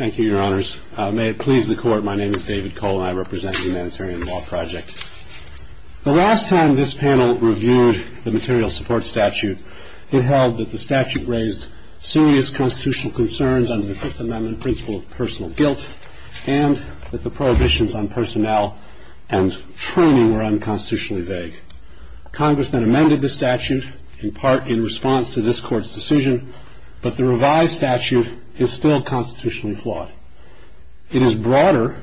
The last time this panel reviewed the Material Support Statute, it held that the statute raised serious constitutional concerns under the Fifth Amendment principle of personal guilt and that the prohibitions on personnel and training were unconstitutionally vague. Congressmen amended the statute, in part in response to this Court's decision, but the revised statute is still constitutionally flawed. It is broader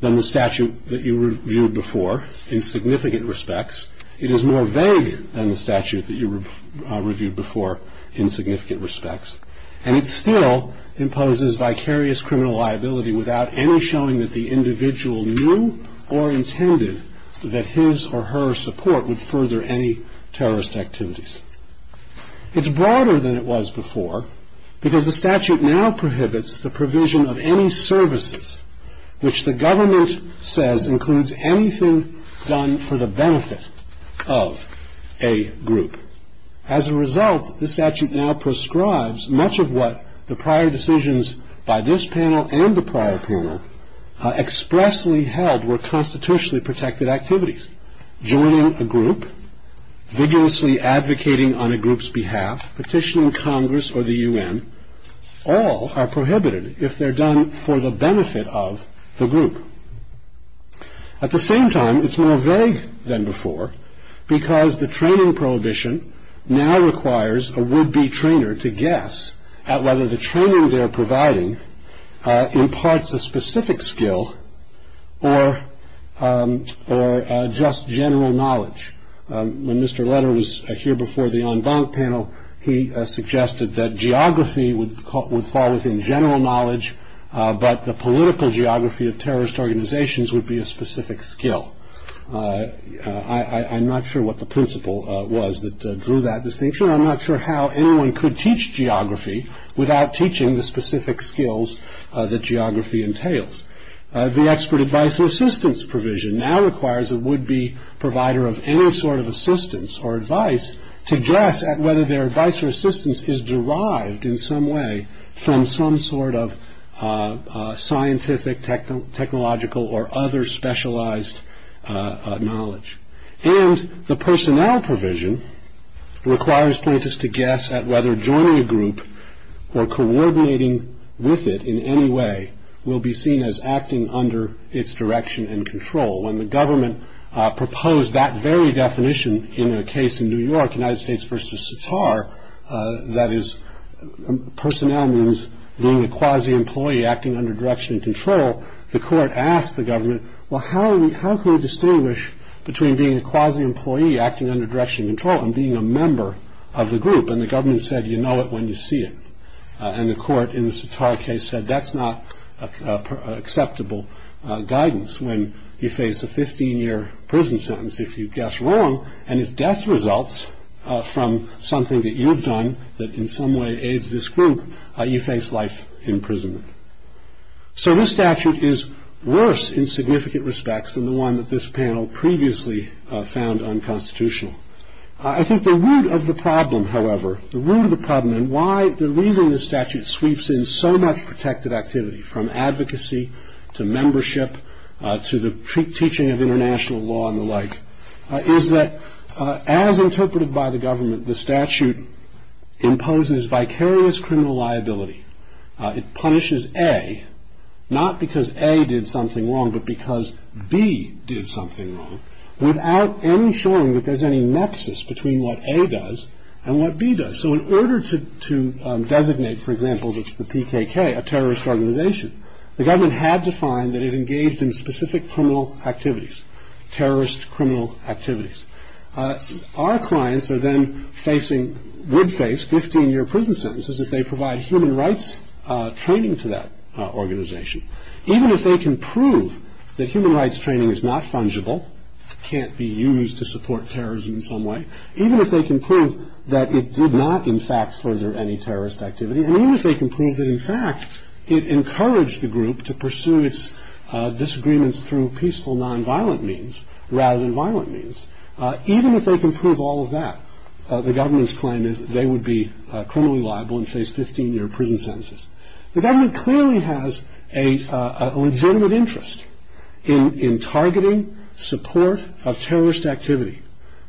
than the statute that you reviewed before in significant respects, it is more vague than the statute that you reviewed before in significant respects, and it still imposes vicarious criminal liability without any showing that the individual knew or intended that his or her support would further any terrorist activities. It's broader than it was before, because the statute now prohibits the provision of any services which the government says includes anything done for the benefit of a group. As a result, the statute now prescribes much of what the prior decisions by this panel and the prior panel expressly held were constitutionally protected activities. Joining a group, vigorously advocating on a group's behalf, petitioning Congress or the UN, all are prohibited if they're done for the benefit of the group. At the same time, it's more vague than before, because the training prohibition now requires a would-be trainer to guess at whether the training they're providing imparts a specific skill or just general knowledge. When Mr. Leder was here before the en banc panel, he suggested that geography would fall within general knowledge, but the political geography of terrorist organizations would be a specific skill. I'm not sure what the principle was that drew that distinction. I'm not sure how anyone could teach geography without teaching the specific skills that geography entails. The expert advice and assistance provision now requires a would-be provider of any sort of assistance or advice to guess at whether their advice or assistance is derived in some way from some sort of scientific, technological, or other specialized knowledge. And the personnel provision requires plaintiffs to guess at whether joining a group or coordinating with it in any way will be seen as acting under its direction and control. When the government proposed that very definition in a case in New York, United States v. Sattar, that is, personnel means being a quasi-employee acting under direction and control, the court asked the government, well, how can we distinguish between being a quasi-employee acting under direction and control and being a member of the group? And the government said, you know it when you see it. And the court in the Sattar case said that's not acceptable guidance when you face a 15-year prison sentence if you guess wrong, and if death results from something that you've done that in some way aids this group, you face life in prison. So this statute is worse in significant respects than the one that this panel previously found unconstitutional. I think the root of the problem, however, the root of the problem and why the reason the statute sweeps in so much protective activity from advocacy to membership to the teaching of international law and the like is that as interpreted by the government, the statute imposes vicarious criminal liability. It punishes A, not because A did something wrong, but because B did something wrong, without any showing that there's any nexus between what A does and what B does. So in order to designate, for example, the PKK, a terrorist organization, the government had to find that it engaged in specific criminal activities, terrorist criminal activities. Our clients would face 15-year prison sentences if they provide human rights training to that organization. Even if they can prove that human rights training is not fungible, can't be used to support terrorism in some way, even if they can prove that it did not, in fact, further any terrorist activity, even if they can prove that, in fact, it encouraged the group to pursue its disagreements through peaceful nonviolent means rather than violent means, even if they can prove all of that, the government's claim is they would be criminally liable and face 15-year prison sentences. The government clearly has a legitimate interest in targeting support of terrorist activity,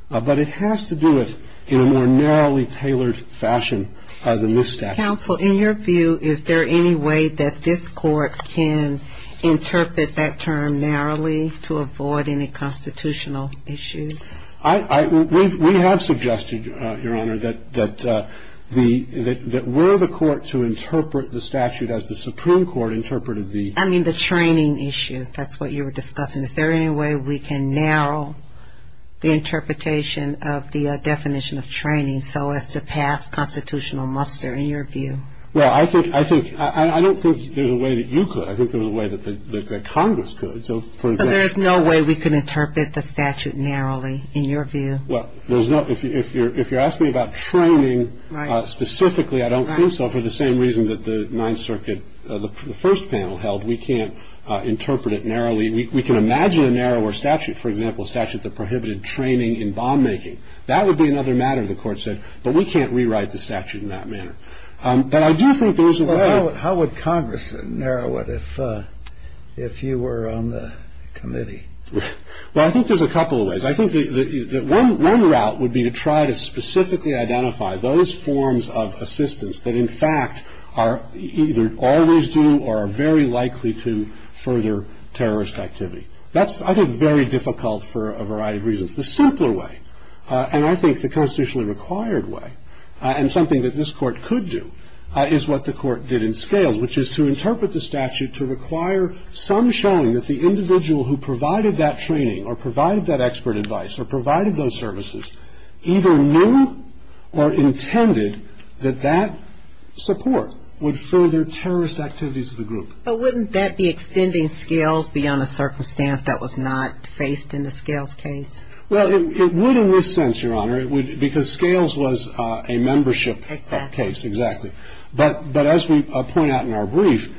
but it has to do it in a more narrowly tailored fashion than this statute. Counsel, in your view, is there any way that this court can interpret that term narrowly to avoid any constitutional issues? We have suggested, Your Honor, that we're the court to interpret the statute as the Supreme Court interpreted the- I mean the training issue, that's what you were discussing. Is there any way we can narrow the interpretation of the definition of training so as to pass constitutional muster in your view? Well, I think- I don't think there's a way that you could. I think there's a way that the Congress could, so for example- But there is no way we can interpret the statute narrowly, in your view. Well, there's not- if you're asking about training specifically, I don't think so, for the same reason that the Ninth Circuit, the first panel held, we can't interpret it narrowly. We can imagine a narrower statute, for example, a statute that prohibited training in bomb making. That would be another matter, the court said, but we can't rewrite the statute in that manner. But I do think there is a way- How would Congress narrow it if you were on the committee? Well, I think there's a couple of ways. I think one route would be to try to specifically identify those forms of assistance that, in fact, are either always due or are very likely to further terrorist activity. That's, I think, very difficult for a variety of reasons. The simpler way, and I think the constitutionally required way, and something that this court could do, is what the court did in scales, which is to interpret the statute to require some showing that the individual who provided that training or provided that expert advice or provided those services either knew or intended that that support would further terrorist activities of the group. But wouldn't that be extending scales beyond a circumstance that was not faced in the scales case? Well, it would in this sense, Your Honor, because scales was a membership case, exactly. But as we point out in our brief,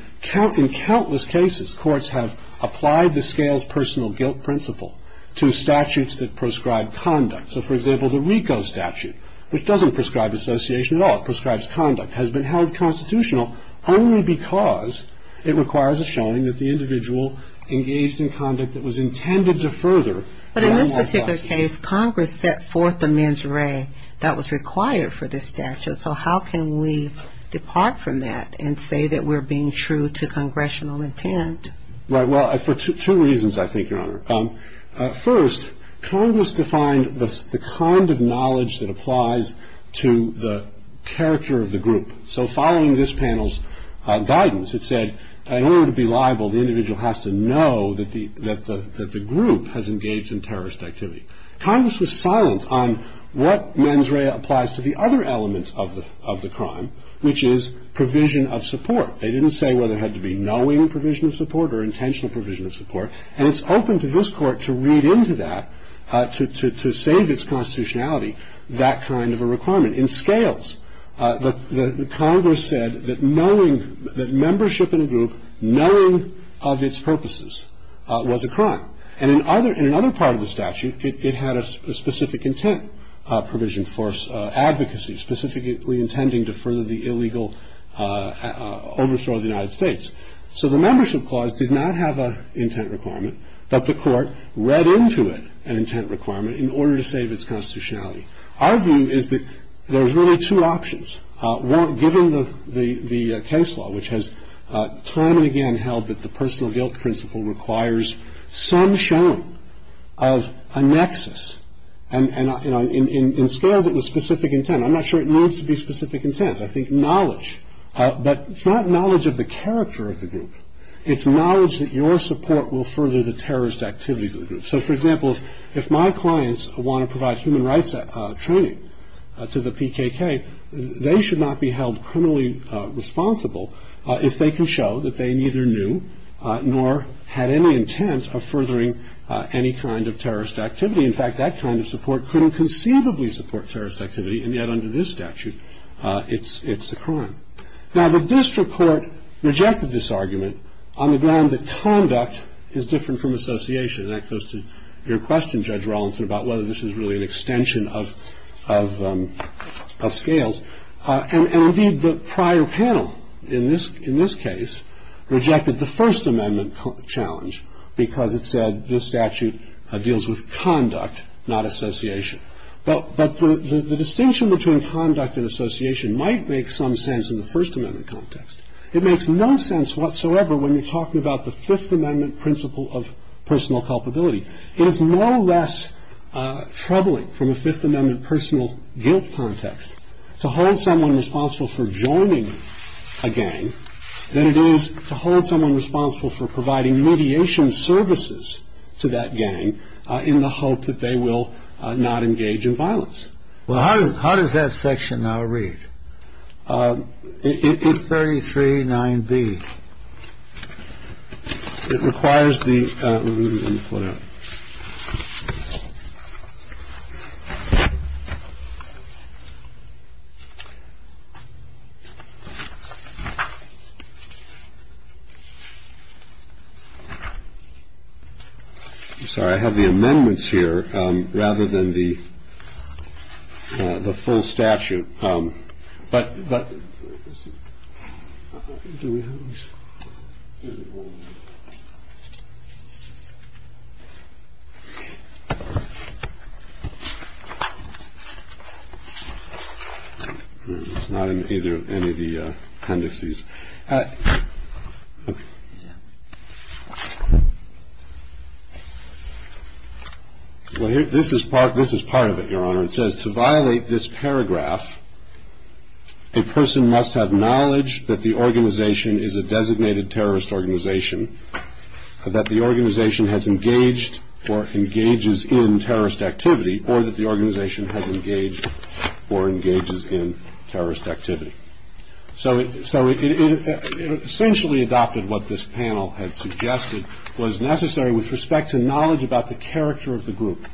in countless cases, courts have applied the scales personal guilt principle to statutes that prescribe conduct. So, for example, the RICO statute, which doesn't prescribe association at all, but prescribes conduct, has been held constitutional only because it requires a showing that the individual engaged in conduct that was intended to further... But in this particular case, Congress set forth the mens rea that was required for this statute. So, how can we depart from that and say that we're being true to congressional intent? Right. Well, for two reasons, I think, Your Honor. First, Congress defined the kind of knowledge that applies to the character of the group. So, following this panel's guidance, it said, in order to be liable, the individual has to know that the group has engaged in terrorist activity. Congress was silent on what mens rea applies to the other elements of the crime, which is provision of support. They didn't say whether it had to be knowing provision of support or intentional provision of support. And it's open to this Court to read into that, to save its constitutionality, that kind of a requirement. In scales, the Congress said that knowing, that membership in a group knowing of its purposes was a crime. And in another part of the statute, it had a specific intent provision for advocacy, specifically intending to further the illegal overthrow of the United States. So, the membership clause did not have an intent requirement, but the Court read into it an intent requirement in order to save its constitutionality. Our view is that there's really two options. One, given the case law, which has time and again held that the personal guilt principle requires some showing of a nexus, and in scale that was specific intent, I'm not sure it needs to be specific intent. I think knowledge. But it's not knowledge of the character of the group. It's knowledge that your support will further the terrorist activity of the group. So, for example, if my clients want to provide human rights training to the PKK, they should not be held criminally responsible if they can show that they neither knew nor had any intent of furthering any kind of terrorist activity. In fact, that kind of support couldn't conceivably support terrorist activity, and yet under this statute it's occurring. Now, the district court rejected this argument on the ground that conduct is different from association, and that goes to your question, Judge Rawlinson, about whether this is really an extension of scales. And, indeed, the prior panel in this case rejected the First Amendment challenge because it said this statute deals with conduct, not association. But the distinction between conduct and association might make some sense in the First Amendment context. It makes no sense whatsoever when you're talking about the Fifth Amendment principle of personal culpability. It is no less troubling from a Fifth Amendment personal guilt context to hold someone responsible for joining a gang than it is to hold someone responsible for providing mediation services to that gang in the hope that they will not engage in violence. Well, how does that section read? It's 33-9B. It requires the root and footer. I'm sorry. I have the amendments here rather than the full statute. It's not in either of any of the indices. This is part of it, Your Honor. It says, to violate this paragraph, a person must have knowledge that the organization is a designated terrorist organization, that the organization has engaged or engages in terrorist activity, or that the organization has engaged or engages in terrorist activity. So it essentially adopted what this panel had suggested was necessary with respect to knowledge about the character of the group.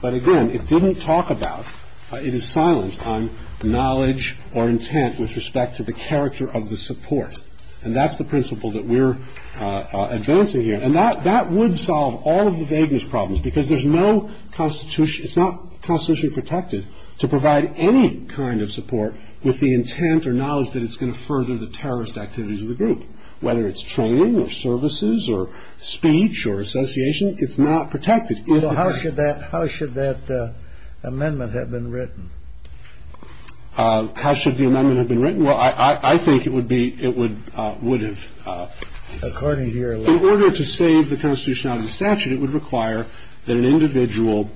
But again, it didn't talk about, it is silenced on knowledge or intent with respect to the character of the support. And that's the principle that we're advancing here. And that would solve all of the vagueness problems, because there's no constitution, it's not constitutionally protected to provide any kind of support with the intent or knowledge that it's going to further the terrorist activities of the group. Whether it's training or services or speech or association, it's not protected. So how should that amendment have been written? How should the amendment have been written? Well, I think it would have, in order to save the constitution out of the statute, it would require that an individual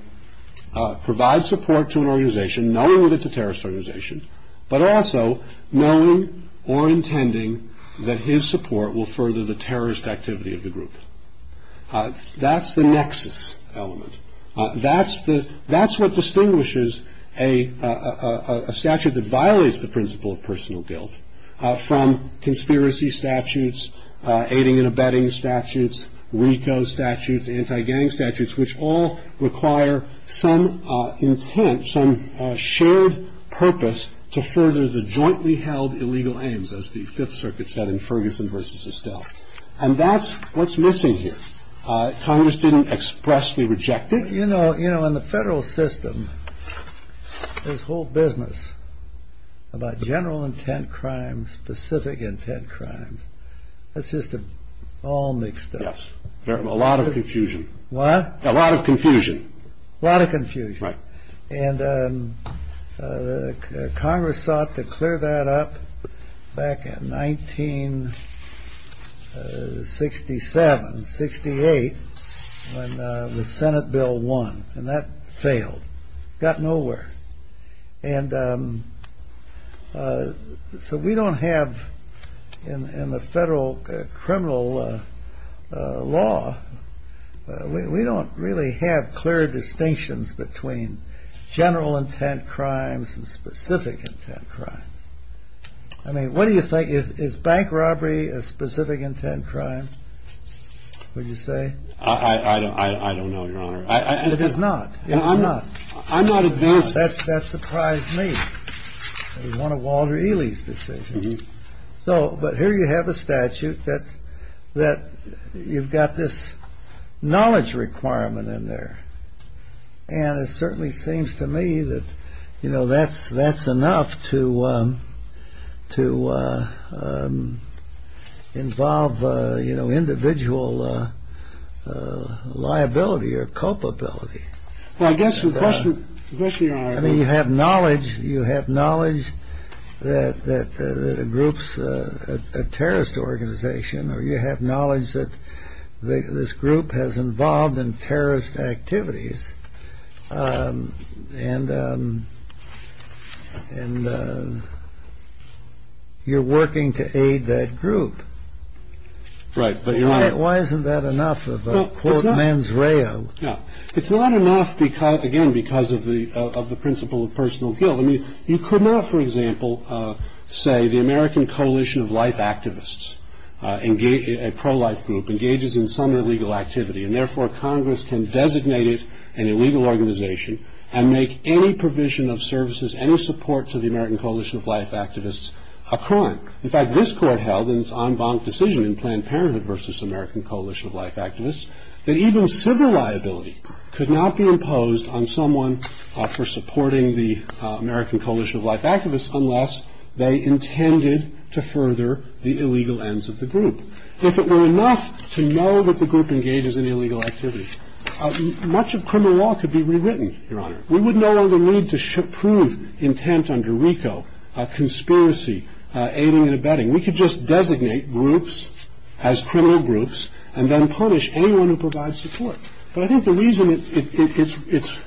provide support to an organization, knowing that it's a terrorist organization, but also knowing or intending that his support will further the terrorist activity of the group. That's the next element. That's what distinguishes a statute that violates the principle of personal guilt from conspiracy statutes, aiding and abetting statutes, RICO statutes, anti-gang statutes, which all require some intent, some shared purpose to further the jointly held illegal aims, as the Fifth Circuit said in Ferguson versus Estelle. And that's what's missing here. Congress didn't expressly reject it. You know, in the federal system, there's whole business about general intent crimes, specific intent crimes. That's just all mixed up. Yes. A lot of confusion. What? A lot of confusion. A lot of confusion. Right. Congress sought to clear that up back in 1967, 68, when the Senate bill won. And that failed. Got nowhere. And so we don't have, in the federal criminal law, we don't really have clear distinctions between general intent crimes and specific intent crimes. I mean, what do you think? Is bank robbery a specific intent crime, would you say? I don't know, Your Honor. It is not. I'm not. I'm not against it. That surprised me. It was one of Walter Ely's decisions. But here you have a statute that you've got this knowledge requirement in there. And it certainly seems to me that, you know, that's enough to involve, you know, individual liability or culpability. Well, I guess the question is this, Your Honor. I mean, you have knowledge that a group's a terrorist organization, or you have knowledge that this group has involved in terrorist activities, and you're working to aid that group. Right. Why isn't that enough of a, quote, mens reo? Yeah. It's not enough, again, because of the principle of personal guilt. I mean, you could not, for example, say the American Coalition of Life Activists, a pro-life group, engages in some illegal activity, and therefore Congress can designate it an illegal organization and make any provision of services, any support to the American Coalition of Life Activists, a crime. In fact, this Court held in its en banc decision in Planned Parenthood v. American Coalition of Life Activists, that even civil liability could not be imposed on someone for supporting the American Coalition of Life Activists unless they intended to further the illegal ends of the group. If it were enough to know that the group engages in illegal activity, much of criminal law could be rewritten, Your Honor. We would no longer need to prove intent under RICO, conspiracy, aiding and abetting. We could just designate groups as criminal groups and then punish anyone who provides support. But I think the reason it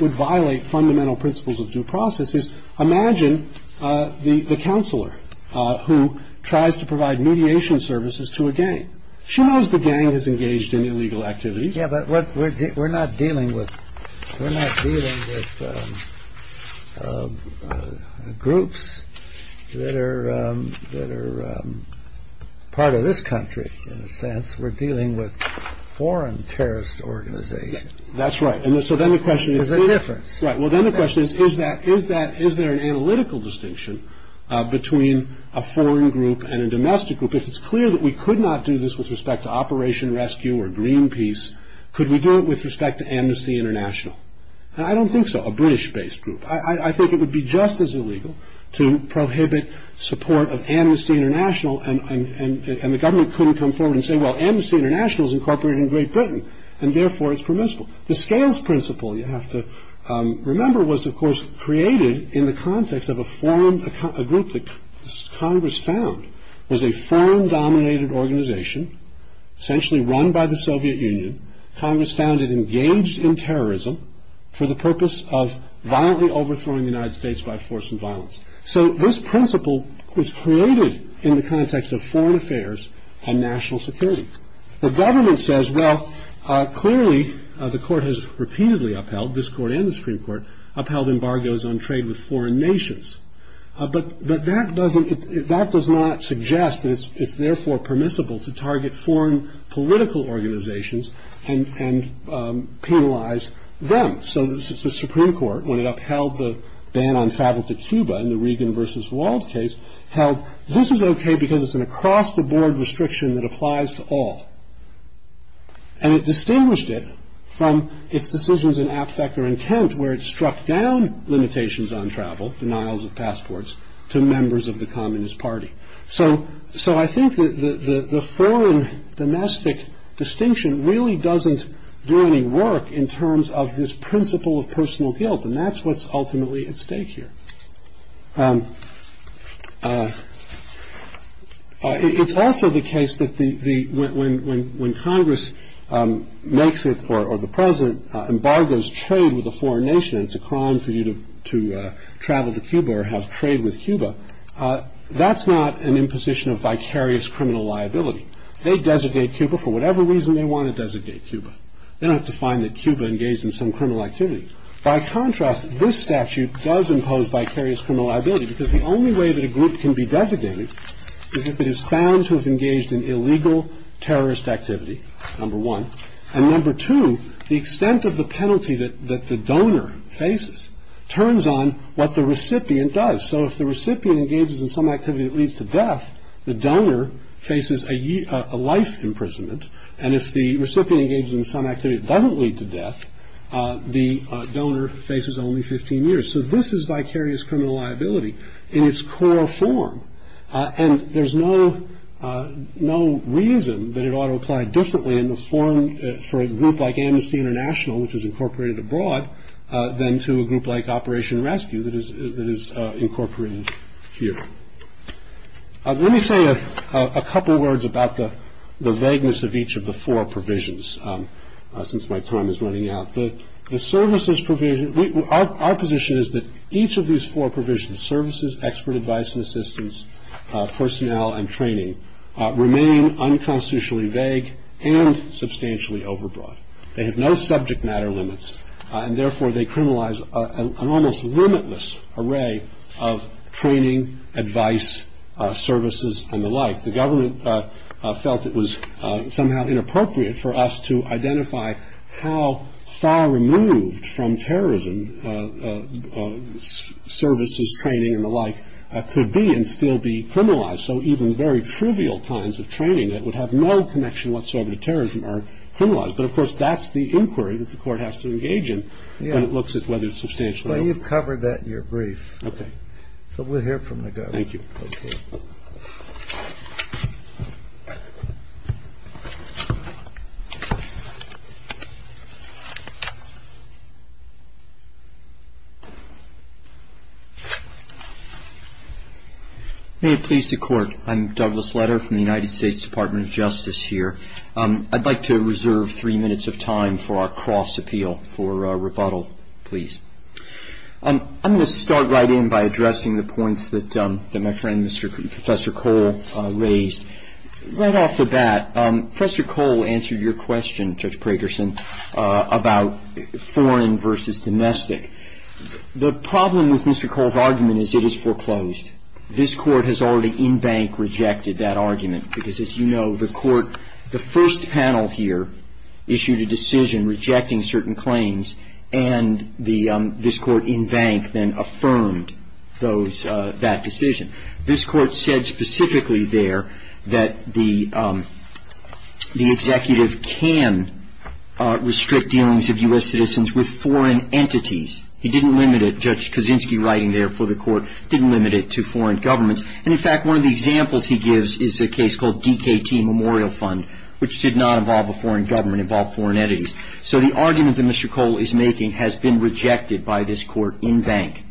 would violate fundamental principles of due process is, imagine the counselor who tries to provide mediation services to a gang. She knows the gang is engaged in illegal activities. Yeah, but we're not dealing with groups that are part of this country, in a sense. We're dealing with foreign terrorist organizations. That's right. And so then the question is, is there an analytical distinction between a foreign group and a domestic group? If it's clear that we could not do this with respect to Operation Rescue or Greenpeace, could we do it with respect to Amnesty International? I don't think so, a British-based group. I think it would be just as illegal to prohibit support of Amnesty International and the government couldn't come forward and say, well, Amnesty International is incorporated in Great Britain, and therefore it's permissible. The scales principle, you have to remember, was, of course, created in the context of a group that Congress found. It was a foreign-dominated organization, essentially run by the Soviet Union. Congress found it engaged in terrorism for the purpose of violently overthrowing the United States by force and violence. So this principle was created in the context of foreign affairs and national security. The government says, well, clearly the court has repeatedly upheld, this court and the Supreme Court, upheld embargoes on trade with foreign nations. But that doesn't, that does not suggest that it's therefore permissible to target foreign political organizations and penalize them. So the Supreme Court, when it upheld the ban on travel to Cuba in the Regan v. Walls case, held, this is okay because it's an across-the-board restriction that applies to all. And it distinguished it from its decisions in Aptheker and Kent, where it struck down limitations on travel, denials of passports, to members of the Communist Party. So I think the foreign-domestic distinction really doesn't do any work in terms of this principle of personal guilt, and that's what's ultimately at stake here. It's also the case that when Congress makes it, or the president, embargoes trade with a foreign nation, it's a crime for you to travel to Cuba or have trade with Cuba, that's not an imposition of vicarious criminal liability. They designate Cuba for whatever reason they want to designate Cuba. They don't have to find that Cuba engaged in some criminal activity. By contrast, this statute does impose vicarious criminal liability, because the only way that a group can be designated is if it is found to have engaged in illegal terrorist activity, number one. And number two, the extent of the penalty that the donor faces turns on what the recipient does. So if the recipient engages in some activity that leads to death, the donor faces a life imprisonment. And if the recipient engages in some activity that doesn't lead to death, the donor faces only 15 years. So this is vicarious criminal liability in its core form, and there's no reason that it ought to apply differently in the form for a group like Amnesty International, which is incorporated abroad, than to a group like Operation Rescue that is incorporated here. Let me say a couple of words about the vagueness of each of the four provisions, since my time is running out. The services provision, our position is that each of these four provisions, services, expert advice and assistance, personnel and training, remain unconstitutionally vague and substantially overbroad. They have no subject matter limits, and therefore they criminalize an almost limitless array of training, advice, services and the like. The government felt it was somehow inappropriate for us to identify how far removed from terrorism services, training and the like could be and still be criminalized. So even very trivial kinds of training that would have no connection whatsoever to terrorism are criminalized. But of course, that's the inquiry that the court has to engage in, and it looks at whether it's substantial. Well, you've covered that in your brief, but we'll hear from the guy. Thank you. May it please the court. I'm Douglas Letter from the United States Department of Justice here. I'd like to reserve three minutes of time for our cross-appeal for rebuttal, please. I'm going to start right in by addressing the points that my friend Professor Cole raised. Right off the bat, Professor Cole answered your question, Judge Pragerson, about foreign versus domestic. The problem with Mr. Cole's argument is it is foreclosed. This court has already in bank rejected that argument because, as you know, the first panel here issued a decision rejecting certain claims, and this court in bank then affirmed that decision. This court said specifically there that the executive can restrict dealings of U.S. citizens with foreign entities. He didn't limit it, Judge Kaczynski writing there for the court, didn't limit it to foreign governments. And in fact, one of the examples he gives is a case called DKT Memorial Fund, which did not involve a foreign government, involved foreign entities. So the argument that Mr. Cole is making has been rejected by this court in bank.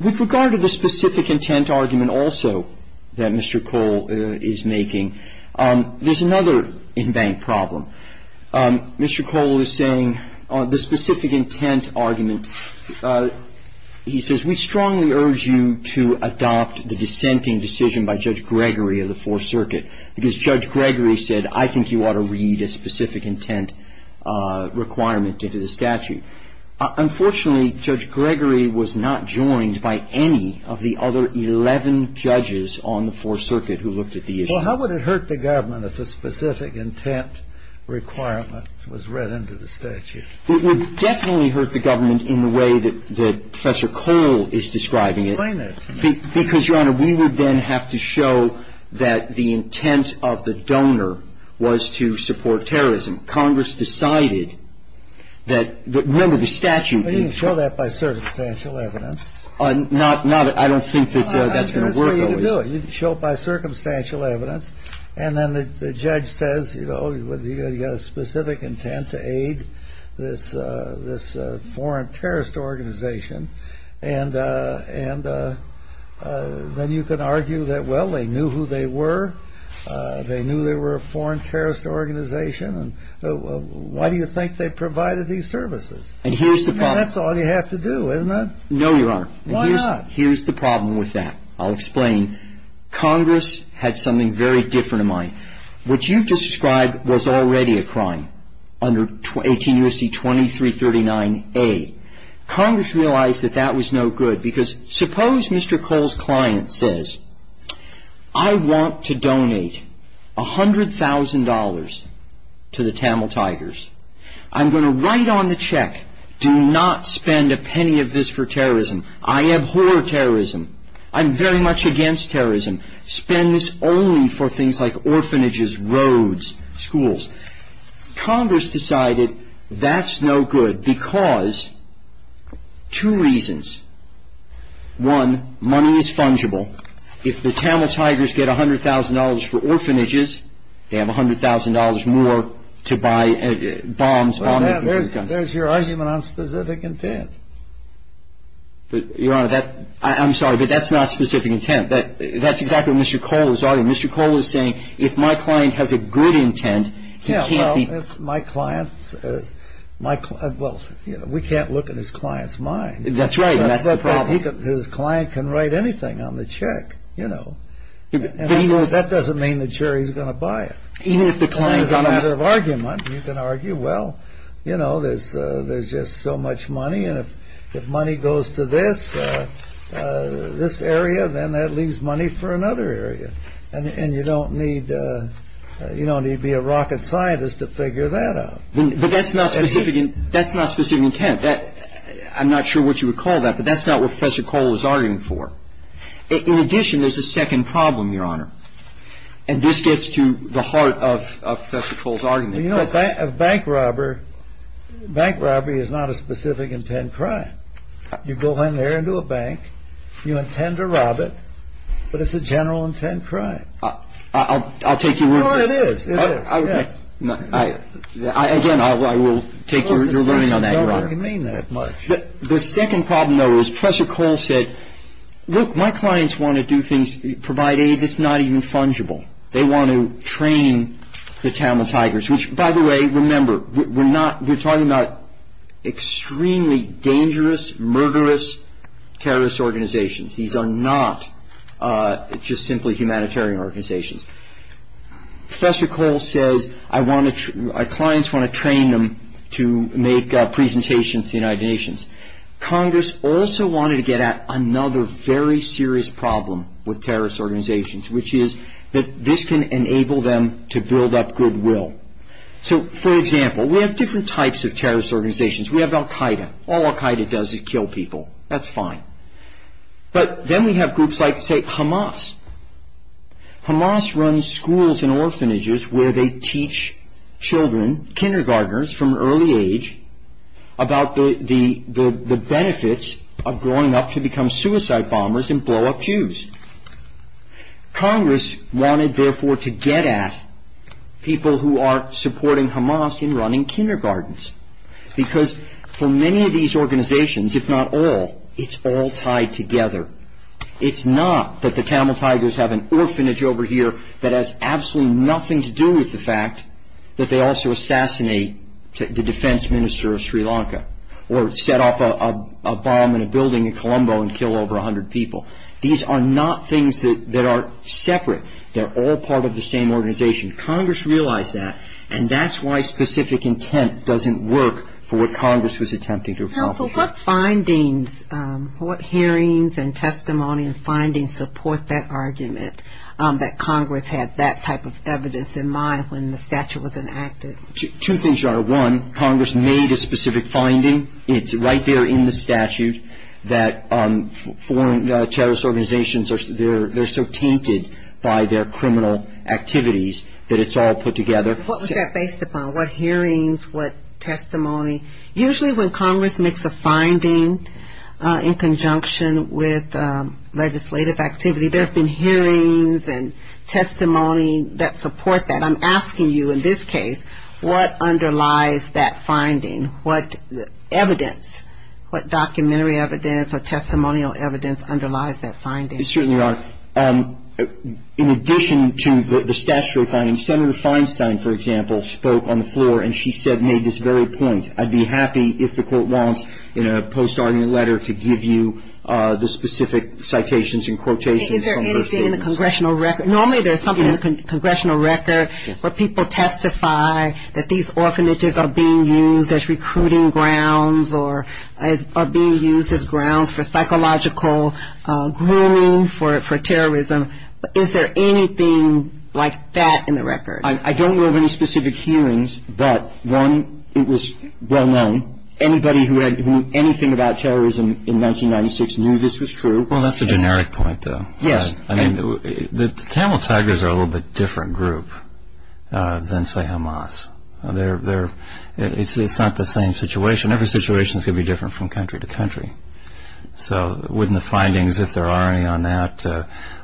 With regard to the specific intent argument also that Mr. Cole is making, there's another in bank problem. Mr. Cole is saying the specific intent argument, he says we strongly urge you to adopt the dissenting decision by Judge Gregory of the Fourth Circuit because Judge Gregory said I think you ought to read a specific intent requirement into the statute. Unfortunately, Judge Gregory was not joined by any of the other 11 judges on the Fourth Circuit who looked at the issue. Well, how would it hurt the government if the specific intent requirement was read into the statute? It would definitely hurt the government in the way that Professor Cole is describing it. Why not? Because, Your Honor, we would then have to show that the intent of the donor was to support terrorism. Congress decided that, remember, the statute. You can show that by circumstantial evidence. I don't think that that's going to work. No, you can do it. You can show it by circumstantial evidence. And then the judge says, you know, you've got a specific intent to aid this foreign terrorist organization. And then you can argue that, well, they knew who they were. They knew they were a foreign terrorist organization. Why do you think they provided these services? And here's the problem. And that's all you have to do, isn't it? No, Your Honor. Why not? Here's the problem with that. I'll explain. Congress had something very different in mind. What you've described was already a crime under 18 U.S.C. 2339A. Congress realized that that was no good. Because suppose Mr. Cole's client says, I want to donate $100,000 to the Tamil Tigers. I'm going to write on the check, do not spend a penny of this for terrorism. I abhor terrorism. I'm very much against terrorism. Spend this only for things like orphanages, roads, schools. Congress decided that's no good because two reasons. One, money is fungible. If the Tamil Tigers get $100,000 for orphanages, they have $100,000 more to buy bombs. There's your argument on specific intent. Your Honor, I'm sorry, but that's not specific intent. That's exactly what Mr. Cole is arguing. Mr. Cole is saying if my client has a good intent, he can't be... Well, we can't look at his client's mind. That's right. His client can write anything on the check, you know. That doesn't mean the chair, he's going to buy it. That's another argument. You can argue, well, you know, there's just so much money. If money goes to this, this area, then that leaves money for another area. And you don't need to be a rocket scientist to figure that out. But that's not specific intent. I'm not sure what you would call that, but that's not what Professor Cole is arguing for. In addition, there's a second problem, Your Honor. And this gets to the heart of Professor Cole's argument. You know, a bank robber, bank robbery is not a specific intent crime. You go in there into a bank, you intend to rob it, but it's a general intent crime. I'll take your word for it. Your Honor, it is. Again, I will take your word on that. I don't really mean that much. The second problem, though, is Professor Cole said, Look, my clients want to do things, provide aid that's not even fungible. They want to train the Tamil Tigers. Which, by the way, remember, we're talking about extremely dangerous, murderous terrorist organizations. These are not just simply humanitarian organizations. Professor Cole says, our clients want to train them to make presentations to the United Nations. Congress also wanted to get at another very serious problem with terrorist organizations, which is that this can enable them to build up goodwill. So, for example, we have different types of terrorist organizations. We have Al Qaeda. All Al Qaeda does is kill people. But then we have groups like, say, Hamas. Hamas runs schools and orphanages where they teach children, kindergarteners from an early age, about the benefits of growing up to become suicide bombers and blow up Jews. Congress wanted, therefore, to get at people who are supporting Hamas in running kindergartens. Because for many of these organizations, if not all, it's all tied together. It's not that the Tamil Tigers have an orphanage over here that has absolutely nothing to do with the fact that they also assassinate the defense minister of Sri Lanka or set off a bomb in a building in Colombo and kill over 100 people. These are not things that are separate. They're all part of the same organization. Congress realized that, and that's why specific intent doesn't work for what Congress was attempting to accomplish. Counsel, what findings, what hearings and testimony and findings support that argument, that Congress had that type of evidence in mind when the statute was enacted? Two things are. One, Congress made a specific finding. It's right there in the statute that foreign terrorist organizations, they're so tainted by their criminal activities that it's all put together. What was that based upon? What hearings, what testimony? Usually when Congress makes a finding in conjunction with legislative activity, there have been hearings and testimony that support that. I'm asking you in this case, what underlies that finding? What evidence, what documentary evidence or testimonial evidence underlies that finding? It certainly does. In addition to the statutory findings, Senator Feinstein, for example, spoke on the floor, and she said made this very point. I'd be happy if the court wants in a post-sorting letter to give you the specific citations and quotations. Is there anything in the congressional record? Normally there's something in the congressional record where people testify that these orphanages are being used as recruiting grounds or are being used as grounds for psychological grooming for terrorism. Is there anything like that in the record? I don't know of any specific hearings, but, one, it was well-known. Anybody who knew anything about terrorism in 1996 knew this was true. Well, that's a generic point, though. Yes. The Tamil Tigers are a little bit different group than, say, Hamas. It's not the same situation. Every situation can be different from country to country. So wouldn't the findings, if there are any on that,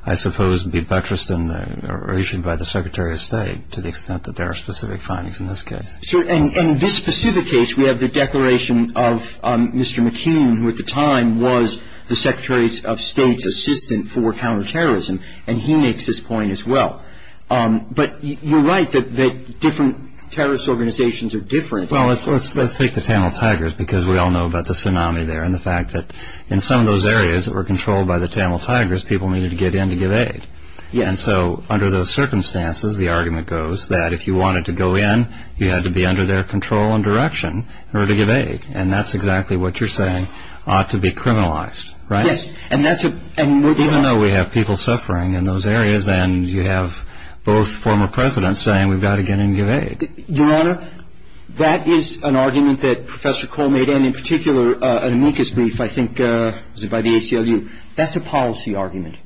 I suppose, be buttressed or issued by the Secretary of State to the extent that there are specific findings in this case? And in this specific case, we have the declaration of Mr. McKean, who at the time was the Secretary of State's assistant for counterterrorism, and he makes this point as well. But you're right that different terrorist organizations are different. Well, let's take the Tamil Tigers because we all know about the tsunami there and the fact that in some of those areas that were controlled by the Tamil Tigers, people needed to get in to give aid. And so under those circumstances, the argument goes that if you wanted to go in, you had to be under their control and direction in order to give aid. And that's exactly what you're saying ought to be criminalized, right? Yes. Even though we have people suffering in those areas and you have both former presidents saying we've got to get in and give aid. Your Honor, that is an argument that Professor Cole made, and in particular an amicus brief, I think, by the ACLU. That's a policy argument.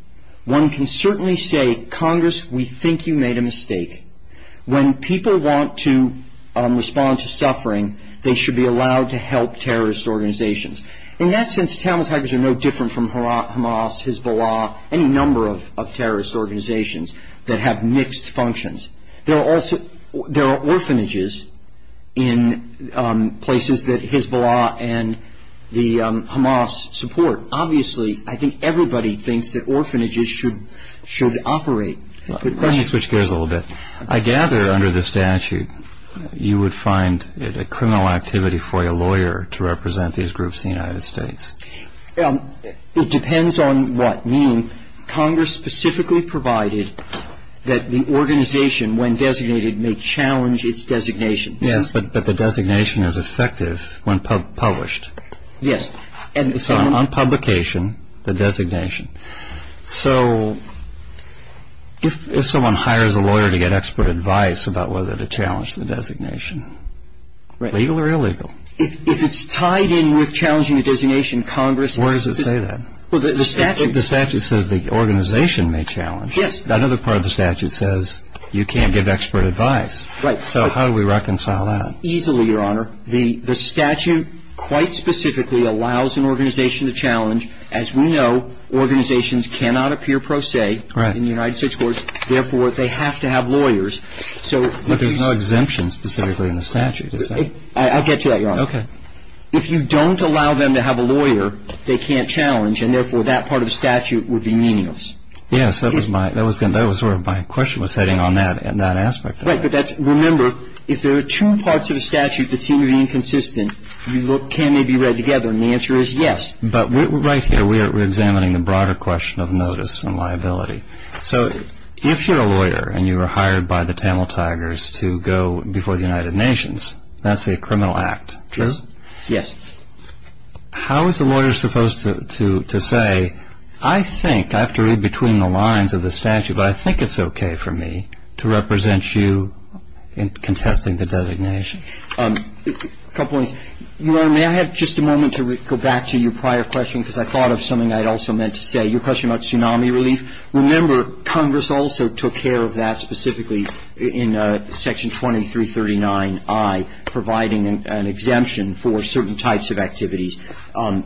One can certainly say, Congress, we think you made a mistake. When people want to respond to suffering, they should be allowed to help terrorist organizations. In that sense, Tamil Tigers are no different from Hamas, Hezbollah, any number of terrorist organizations that have mixed functions. There are orphanages in places that Hezbollah and the Hamas support. Obviously, I think everybody thinks that orphanages should operate. Let me switch gears a little bit. I gather under the statute, you would find it a criminal activity for a lawyer to represent these groups in the United States. It depends on what means. Congress specifically provided that the organization, when designated, may challenge its designation. Yes, but the designation is effective when published. Yes. On publication, the designation. So, if someone hires a lawyer to get expert advice about whether to challenge the designation, legal or illegal? If it's tied in with challenging the designation, Congress... Where does it say that? The statute says the organization may challenge. Yes. Another part of the statute says you can't give expert advice. Right. So, how do we reconcile that? Easily, Your Honor. The statute quite specifically allows an organization to challenge. As we know, organizations cannot appear pro se in the United States courts. Therefore, they have to have lawyers. But there's no exemption specifically in the statute, is there? I'll get to that, Your Honor. Okay. If you don't allow them to have a lawyer, they can't challenge, and therefore that part of the statute would be meaningless. Yes, that was where my question was heading on that aspect. Right, but remember, if there are two parts of the statute that seem to be inconsistent, can they be read together? And the answer is yes. But right here we are examining the broader question of notice and liability. So, if you're a lawyer and you were hired by the Tamil Tigers to go before the United Nations, that's a criminal act. True? Yes. How is a lawyer supposed to say, I think, I have to read between the lines of the statute, but I think it's okay for me to represent you in contesting the designation? A couple of things. Your Honor, may I have just a moment to go back to your prior question because I thought of something I'd also meant to say, your question about tsunami relief. Remember, Congress also took care of that specifically in Section 2339I, providing an exemption for certain types of activities.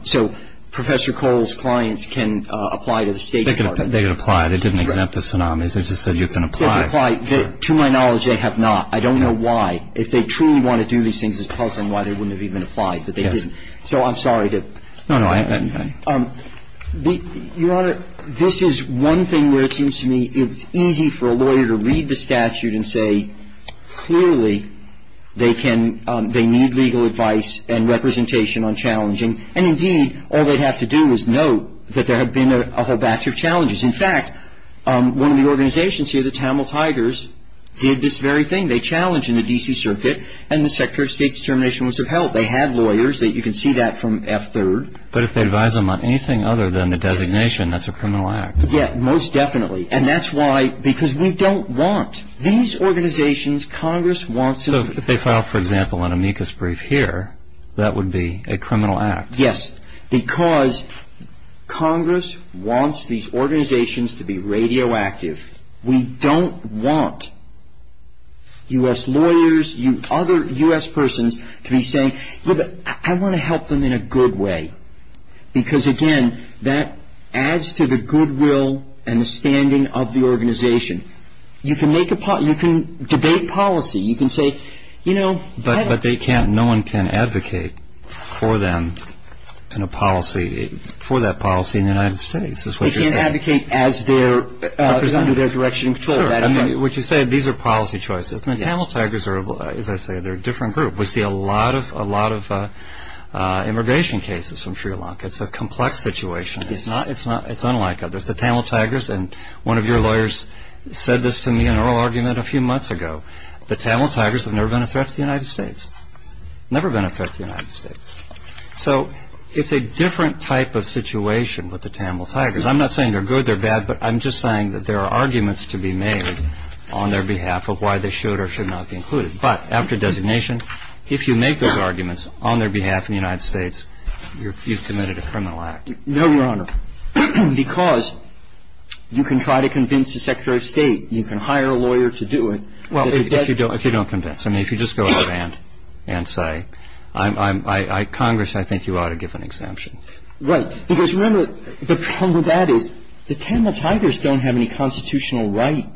So, Professor Cole's clients can apply to the State Department. They can apply. They didn't exempt the tsunamis. They just said you can apply. They can apply. To my knowledge, they have not. I don't know why. If they truly want to do these things, it's possible why they wouldn't have even applied, but they didn't. So, I'm sorry to – No, no, I understand. Your Honor, this is one thing where it seems to me it's easy for a lawyer to read the statute and say, clearly, they need legal advice and representation on challenging. And, indeed, all they'd have to do is note that there had been a whole batch of challenges. In fact, one of the organizations here, the Tamil Tigers, did this very thing. They challenged in the D.C. Circuit, and the Secretary of State's determination was to help. They had lawyers. You can see that from F-3rd. But if they advise them on anything other than the designation, that's a criminal act. Yeah, most definitely. And that's why – because we don't want – these organizations, Congress wants to – So, if they file, for example, an amicus brief here, that would be a criminal act. Yes, because Congress wants these organizations to be radioactive. We don't want U.S. lawyers, other U.S. persons to be saying, look, I want to help them in a good way. Because, again, that adds to the goodwill and the standing of the organization. You can make a – you can debate policy. You can say, you know – But they can't – no one can advocate for them in a policy – for that policy in the United States. They can't advocate as their – under their direction. Sure. I mean, what you said, these are policy choices. And the Tamil Tigers are, as I say, they're a different group. We see a lot of immigration cases from Sri Lanka. It's a complex situation. It's not – it's unlike others. The Tamil Tigers – and one of your lawyers said this to me in oral argument a few months ago. The Tamil Tigers have never been a threat to the United States. Never been a threat to the United States. So it's a different type of situation with the Tamil Tigers. I'm not saying they're good, they're bad. But I'm just saying that there are arguments to be made on their behalf of why they should or should not be included. But after designation, if you make those arguments on their behalf in the United States, you've committed a criminal act. No, Your Honor, because you can try to convince the Secretary of State. You can hire a lawyer to do it. Well, if you don't convince. I mean, if you just go out and say, Congress, I think you ought to give an exemption. Right. Because remember, the problem with that is the Tamil Tigers don't have any constitutional right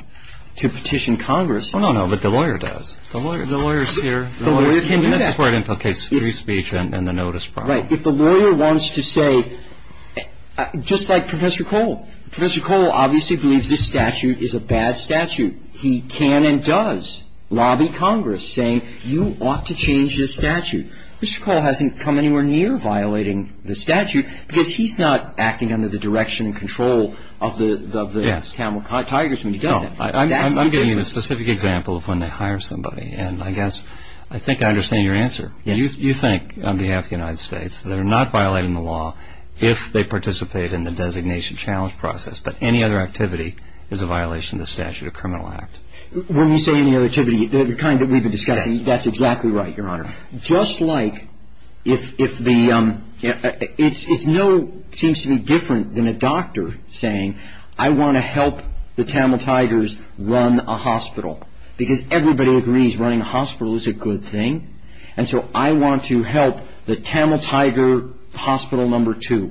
to petition Congress. Oh, no, no. But the lawyer does. The lawyer's here. The lawyer can do that. That's where it implicates free speech and the notice part. Right. If the lawyer wants to say – just like Professor Cole. Professor Cole obviously believes this statute is a bad statute. He can and does lobby Congress, saying you ought to change this statute. Mr. Cole hasn't come anywhere near violating this statute because he's not acting under the direction and control of the Tamil Tigers when he does it. No, I'm giving you a specific example of when they hire somebody. And I guess I think I understand your answer. You think, on behalf of the United States, that they're not violating the law if they participate in the designation challenge process. But any other activity is a violation of the Statute of Criminal Act. When we say any other activity, the kind that we've been discussing, that's exactly right, Your Honor. Just like if the – it seems to be different than a doctor saying, I want to help the Tamil Tigers run a hospital. Because everybody agrees running a hospital is a good thing. And so I want to help the Tamil Tiger hospital number two.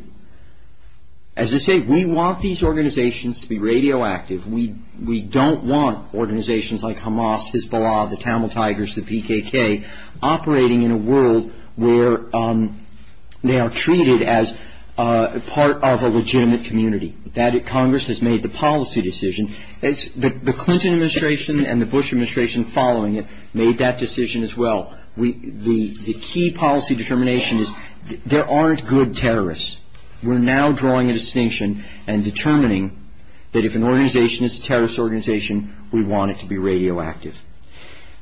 As I say, we want these organizations to be radioactive. We don't want organizations like Hamas, Hezbollah, the Tamil Tigers, the PKK, operating in a world where they are treated as part of a legitimate community. Congress has made the policy decision. The Clinton administration and the Bush administration following it made that decision as well. The key policy determination is there aren't good terrorists. We're now drawing a distinction and determining that if an organization is a terrorist organization, we want it to be radioactive.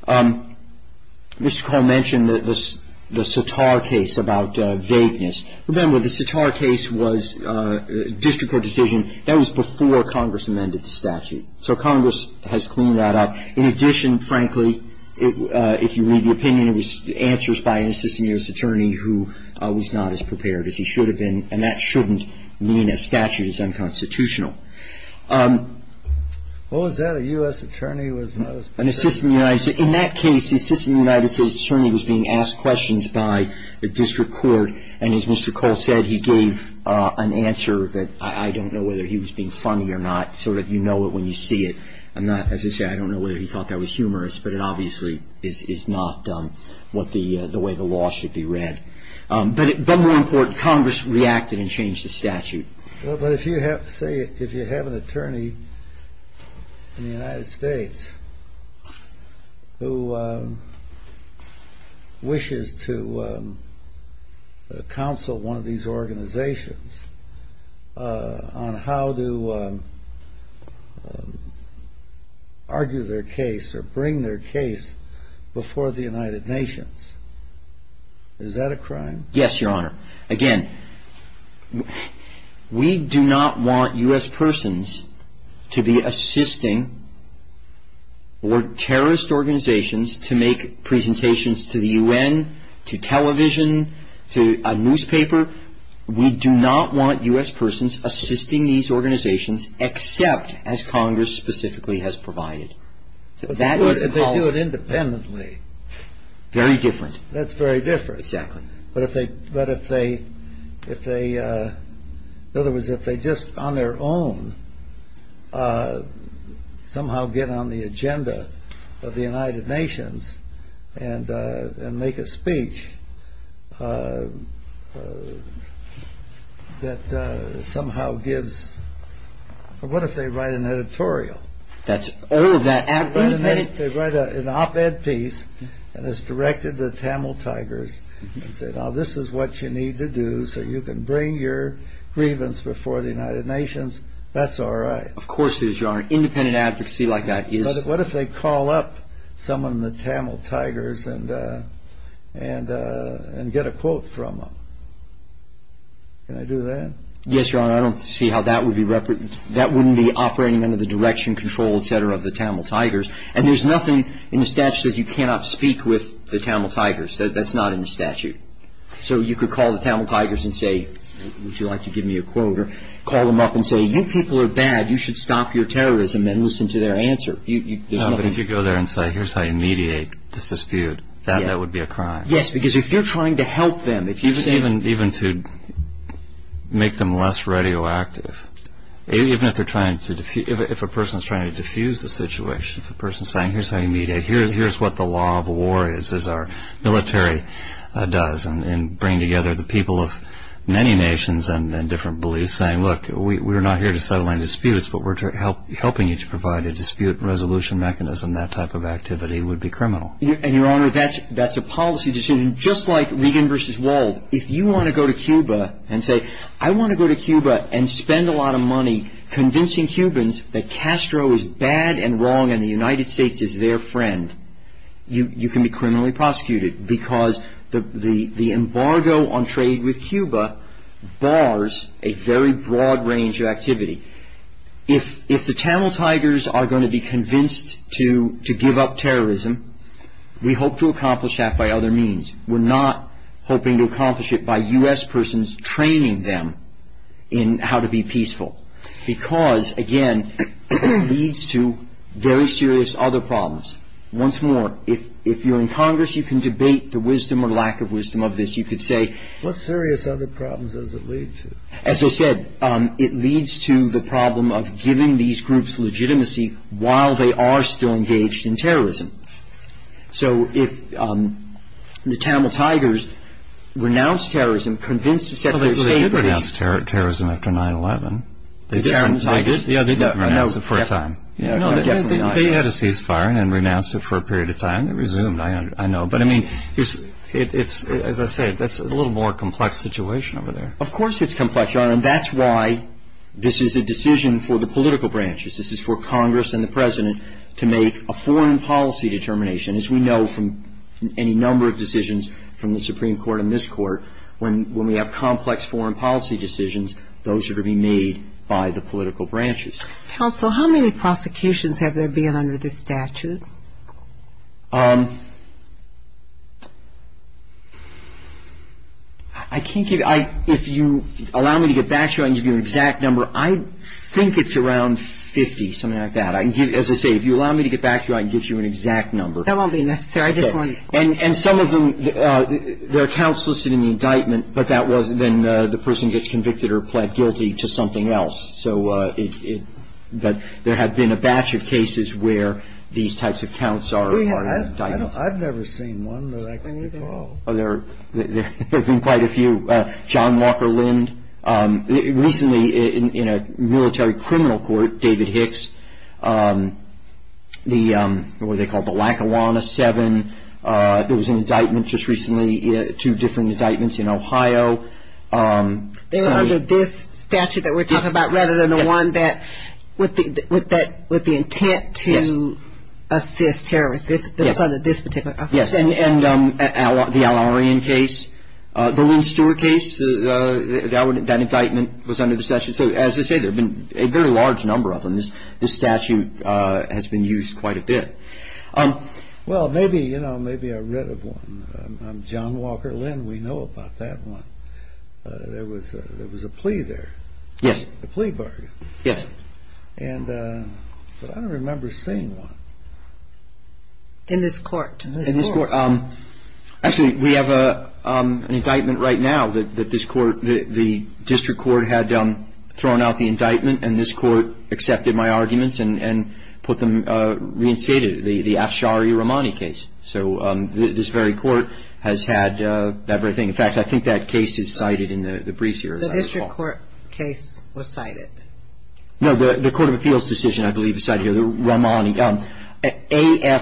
Mr. Cole mentioned the Sitar case about vagueness. Remember, the Sitar case was a district court decision. That was before Congress amended the statute. So Congress has cleaned that up. In addition, frankly, if you read the opinion, it was answers by an assistant U.S. attorney who was not as prepared as he should have been. And that shouldn't mean a statute is unconstitutional. Was that a U.S. attorney? In that case, the assistant United States attorney was being asked questions by the district court. And as Mr. Cole said, he gave an answer that I don't know whether he was being funny or not, so that you know it when you see it. And as you say, I don't know whether he thought that was humorous, but it obviously is not what the way the law should be read. But more important, Congress reacted and changed the statute. But if you have an attorney in the United States who wishes to counsel one of these organizations on how to argue their case or bring their case before the United Nations, is that a crime? Yes, Your Honor. Again, we do not want U.S. persons to be assisting terrorist organizations to make presentations to the U.N., to television, to a newspaper. We do not want U.S. persons assisting these organizations, except as Congress specifically has provided. They do it independently. Very different. That's very different. Exactly. But if they, in other words, if they just on their own somehow get on the agenda of the United Nations and make a speech that somehow gives, what if they write an editorial? They write an op-ed piece and it's directed to the Tamil Tigers. Now this is what you need to do so you can bring your grievance before the United Nations. That's all right. Of course it is, Your Honor. Independent advocacy like that is. But what if they call up some of the Tamil Tigers and get a quote from them? Can I do that? Yes, Your Honor. I don't see how that would be operating under the direction, control, et cetera, of the Tamil Tigers. And there's nothing in the statute that says you cannot speak with the Tamil Tigers. That's not in the statute. So you could call the Tamil Tigers and say, would you like to give me a quote? Or call them up and say, you people are bad. You should stop your terrorism and listen to their answer. No, but if you go there and say, here's how you mediate this dispute, that would be a crime. Yes, because if you're trying to help them. Even to make them less radioactive. Even if a person is trying to diffuse the situation. If a person is saying, here's how you mediate, here's what the law of war is, our military does, and bring together the people of many nations and different beliefs, saying, look, we're not here to settle any disputes but we're helping you to provide a dispute resolution mechanism, that type of activity would be criminal. And, Your Honor, that's a policy decision. And just like Ligon versus Wald, if you want to go to Cuba and say, I want to go to Cuba and spend a lot of money convincing Cubans that Castro is bad and wrong and the United States is their friend, you can be criminally prosecuted. Because the embargo on trade with Cuba bars a very broad range of activity. If the Tamil Tigers are going to be convinced to give up terrorism, we hope to accomplish that by other means. We're not hoping to accomplish it by U.S. persons training them in how to be peaceful. Because, again, it leads to very serious other problems. Once more, if you're in Congress, you can debate the wisdom or lack of wisdom of this. What serious other problems does it lead to? As I said, it leads to the problem of giving these groups legitimacy while they are still engaged in terrorism. So if the Tamil Tigers renounce terrorism, convince us that they're safe... Well, they did renounce terrorism after 9-11. They did? They did? Yeah, they did. That was the first time. They had a ceasefire and then renounced it for a period of time. It resumed, I know. But, I mean, as I said, that's a little more complex situation over there. Of course it's complex, Your Honor. And that's why this is a decision for the political branches. This is for Congress and the President to make a foreign policy determination. As we know from any number of decisions from the Supreme Court and this Court, when we have complex foreign policy decisions, those are to be made by the political branches. Counsel, how many prosecutions have there been under this statute? Um... I can't give... If you allow me to get back to you, I can give you an exact number. I think it's around 50, something like that. As I say, if you allow me to get back to you, I can give you an exact number. That won't be necessary. And some of them, there are counts listed in the indictment, but that was when the person gets convicted or pled guilty to something else. So there have been a batch of cases where these types of counts are in the indictment. I've never seen one, but I think... There have been quite a few. John Walker Lind, recently in a military criminal court, David Hicks, the, what are they called, the Lackawanna Seven, there was an indictment just recently, two different indictments in Ohio. They were under this statute that we're talking about, rather than the one with the intent to assist terrorists. It's under this particular statute. Yes, and the Al-Orian case. The Lynn Stewart case, that indictment was under this statute. So, as I say, there have been a very large number of them. This statute has been used quite a bit. Well, maybe, you know, maybe I read of one. I'm John Walker Lind. We know about that one. There was a plea there. Yes. A plea bargain. Yes. And, but I don't remember seeing one. In this court. In this court. Actually, we have an indictment right now that this court, the district court had thrown out the indictment, and this court accepted my arguments and reinstated it, the Ashari Romani case. So, this very court has had that very thing. In fact, I think that case is cited in the briefs here. The district court case was cited. No, the Court of Appeals decision, I believe, is cited here, Romani. A-F-S-H-A-R-I.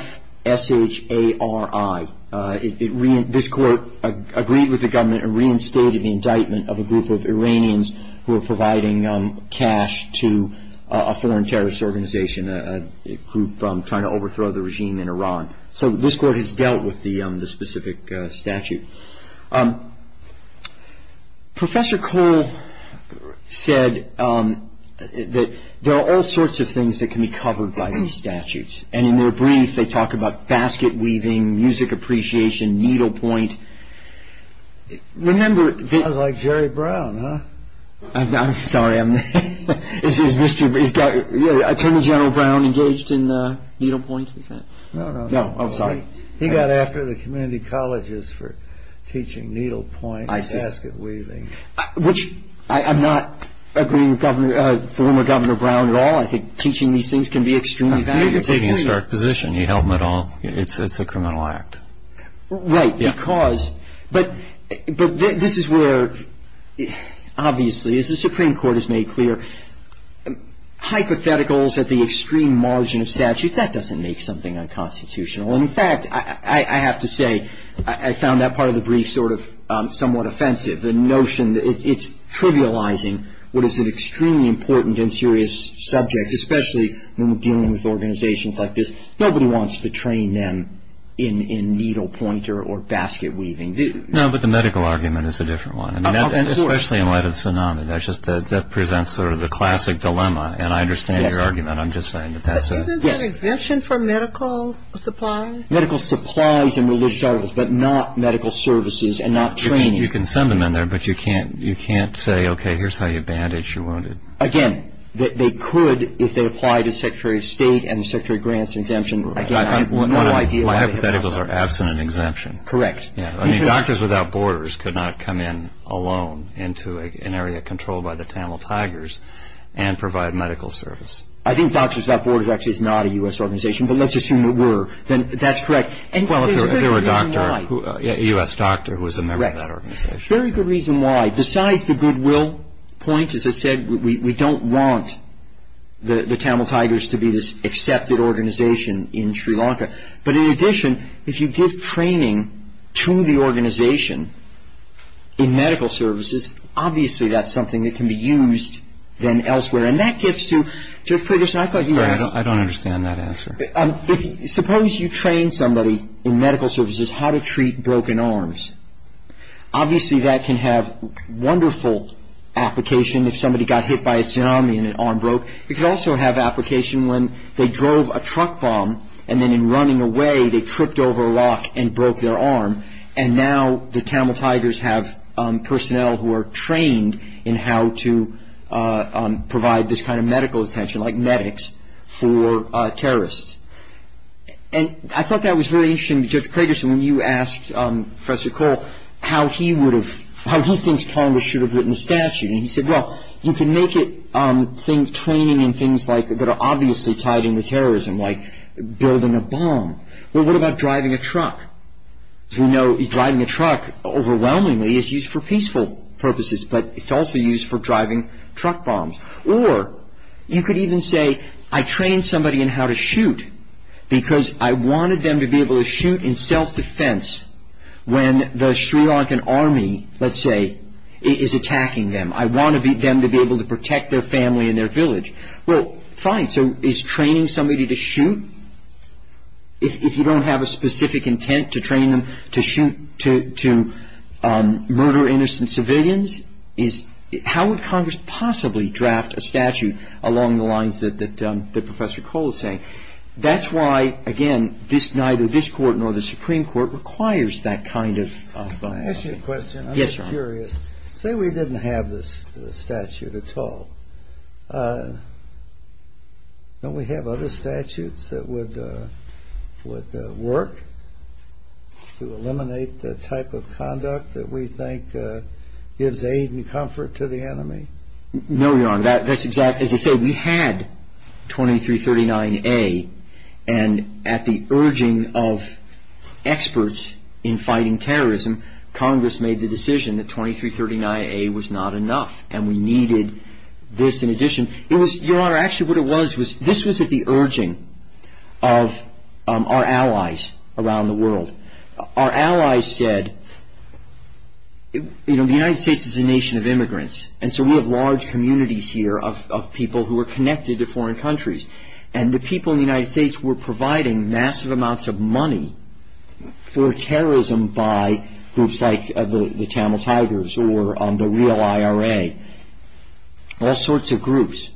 This court agreed with the government and reinstated the indictment of a group of Iranians who were providing cash to a foreign terrorist organization, a group trying to overthrow the regime in Iran. So, this court has dealt with the specific statute. Professor Cole said that there are all sorts of things that can be covered by these statutes. And in their brief, they talk about basket weaving, music appreciation, needlepoint. Remember- Sounds like Jerry Brown, huh? I'm sorry. Is Attorney General Brown engaged in needlepoint? No, no. Oh, sorry. He got after the community colleges for teaching needlepoint and basket weaving. I'm not agreeing with former Governor Brown at all. I think teaching these things can be extremely valuable. He's taking a stark position. He held them at all. It's a criminal act. Right, because- But this is where, obviously, as the Supreme Court has made clear, hypotheticals at the extreme margin of statute, that doesn't make something unconstitutional. In fact, I have to say, I found that part of the brief sort of somewhat offensive, the notion that it's trivializing what is an extremely important and serious subject, especially when dealing with organizations like this. Nobody wants to train them in needlepointer or basket weaving. No, but the medical argument is a different one. Of course. Especially in light of the tsunami. That presents sort of the classic dilemma, and I understand your argument. I'm just saying that that's a- Isn't there an exemption for medical supplies? Medical supplies and religious articles, but not medical services and not training. You can send them in there, but you can't say, okay, here's how you bandage your wounded. Again, they could if they apply to Secretary of State and the Secretary of Grants exemption. Again, I have no idea why- Well, hypotheticals are absolutely an exemption. Correct. Doctors Without Borders could not come in alone into an area controlled by the Tamil Tigers and provide medical service. I think Doctors Without Borders actually is not a U.S. organization, but let's assume it were. That's correct. There was a doctor, a U.S. doctor who was a member of that organization. Very good reason why. Besides the goodwill point, as I said, But in addition, if you give training to the organization in medical services, obviously that's something that can be used then elsewhere. And that gets to- I don't understand that answer. Suppose you train somebody in medical services how to treat broken arms. Obviously that can have wonderful application if somebody got hit by a tsunami and their arm broke. It could also have application when they drove a truck bomb, and then in running away they tripped over a rock and broke their arm. And now the Tamil Tigers have personnel who are trained in how to provide this kind of medical attention, like medics, for terrorists. And I thought that was very interesting because, Craigerson, when you asked Professor Cole how he thinks Congress should have written the statute, he said, well, you can make it training in things that are obviously tied into terrorism, like building a bomb, but what about driving a truck? We know driving a truck, overwhelmingly, is used for peaceful purposes, but it's also used for driving truck bombs. Or you could even say, I trained somebody in how to shoot because I wanted them to be able to shoot in self-defense when the Sri Lankan army, let's say, is attacking them. I want them to be able to protect their family and their village. Well, fine, so is training somebody to shoot, if you don't have a specific intent to train them to shoot, to murder innocent civilians? How would Congress possibly draft a statute along the lines that Professor Cole is saying? That's why, again, neither this court nor the Supreme Court requires that kind of funding. Let me ask you a question. I'm just curious. Say we didn't have this statute at all. Don't we have other statutes that would work to eliminate the type of conduct that we think gives aid and comfort to the enemy? No, Your Honor. As I said, we had 2339A, and at the urging of experts in fighting terrorism, Congress made the decision that 2339A was not enough, and we needed this in addition. Your Honor, actually what it was, this was at the urging of our allies around the world. Our allies said, the United States is a nation of immigrants, and so we have large communities here of people who are connected to foreign countries, and the people in the United States were providing massive amounts of money for terrorism by groups like the Channel Tigers or the real IRA, all sorts of groups.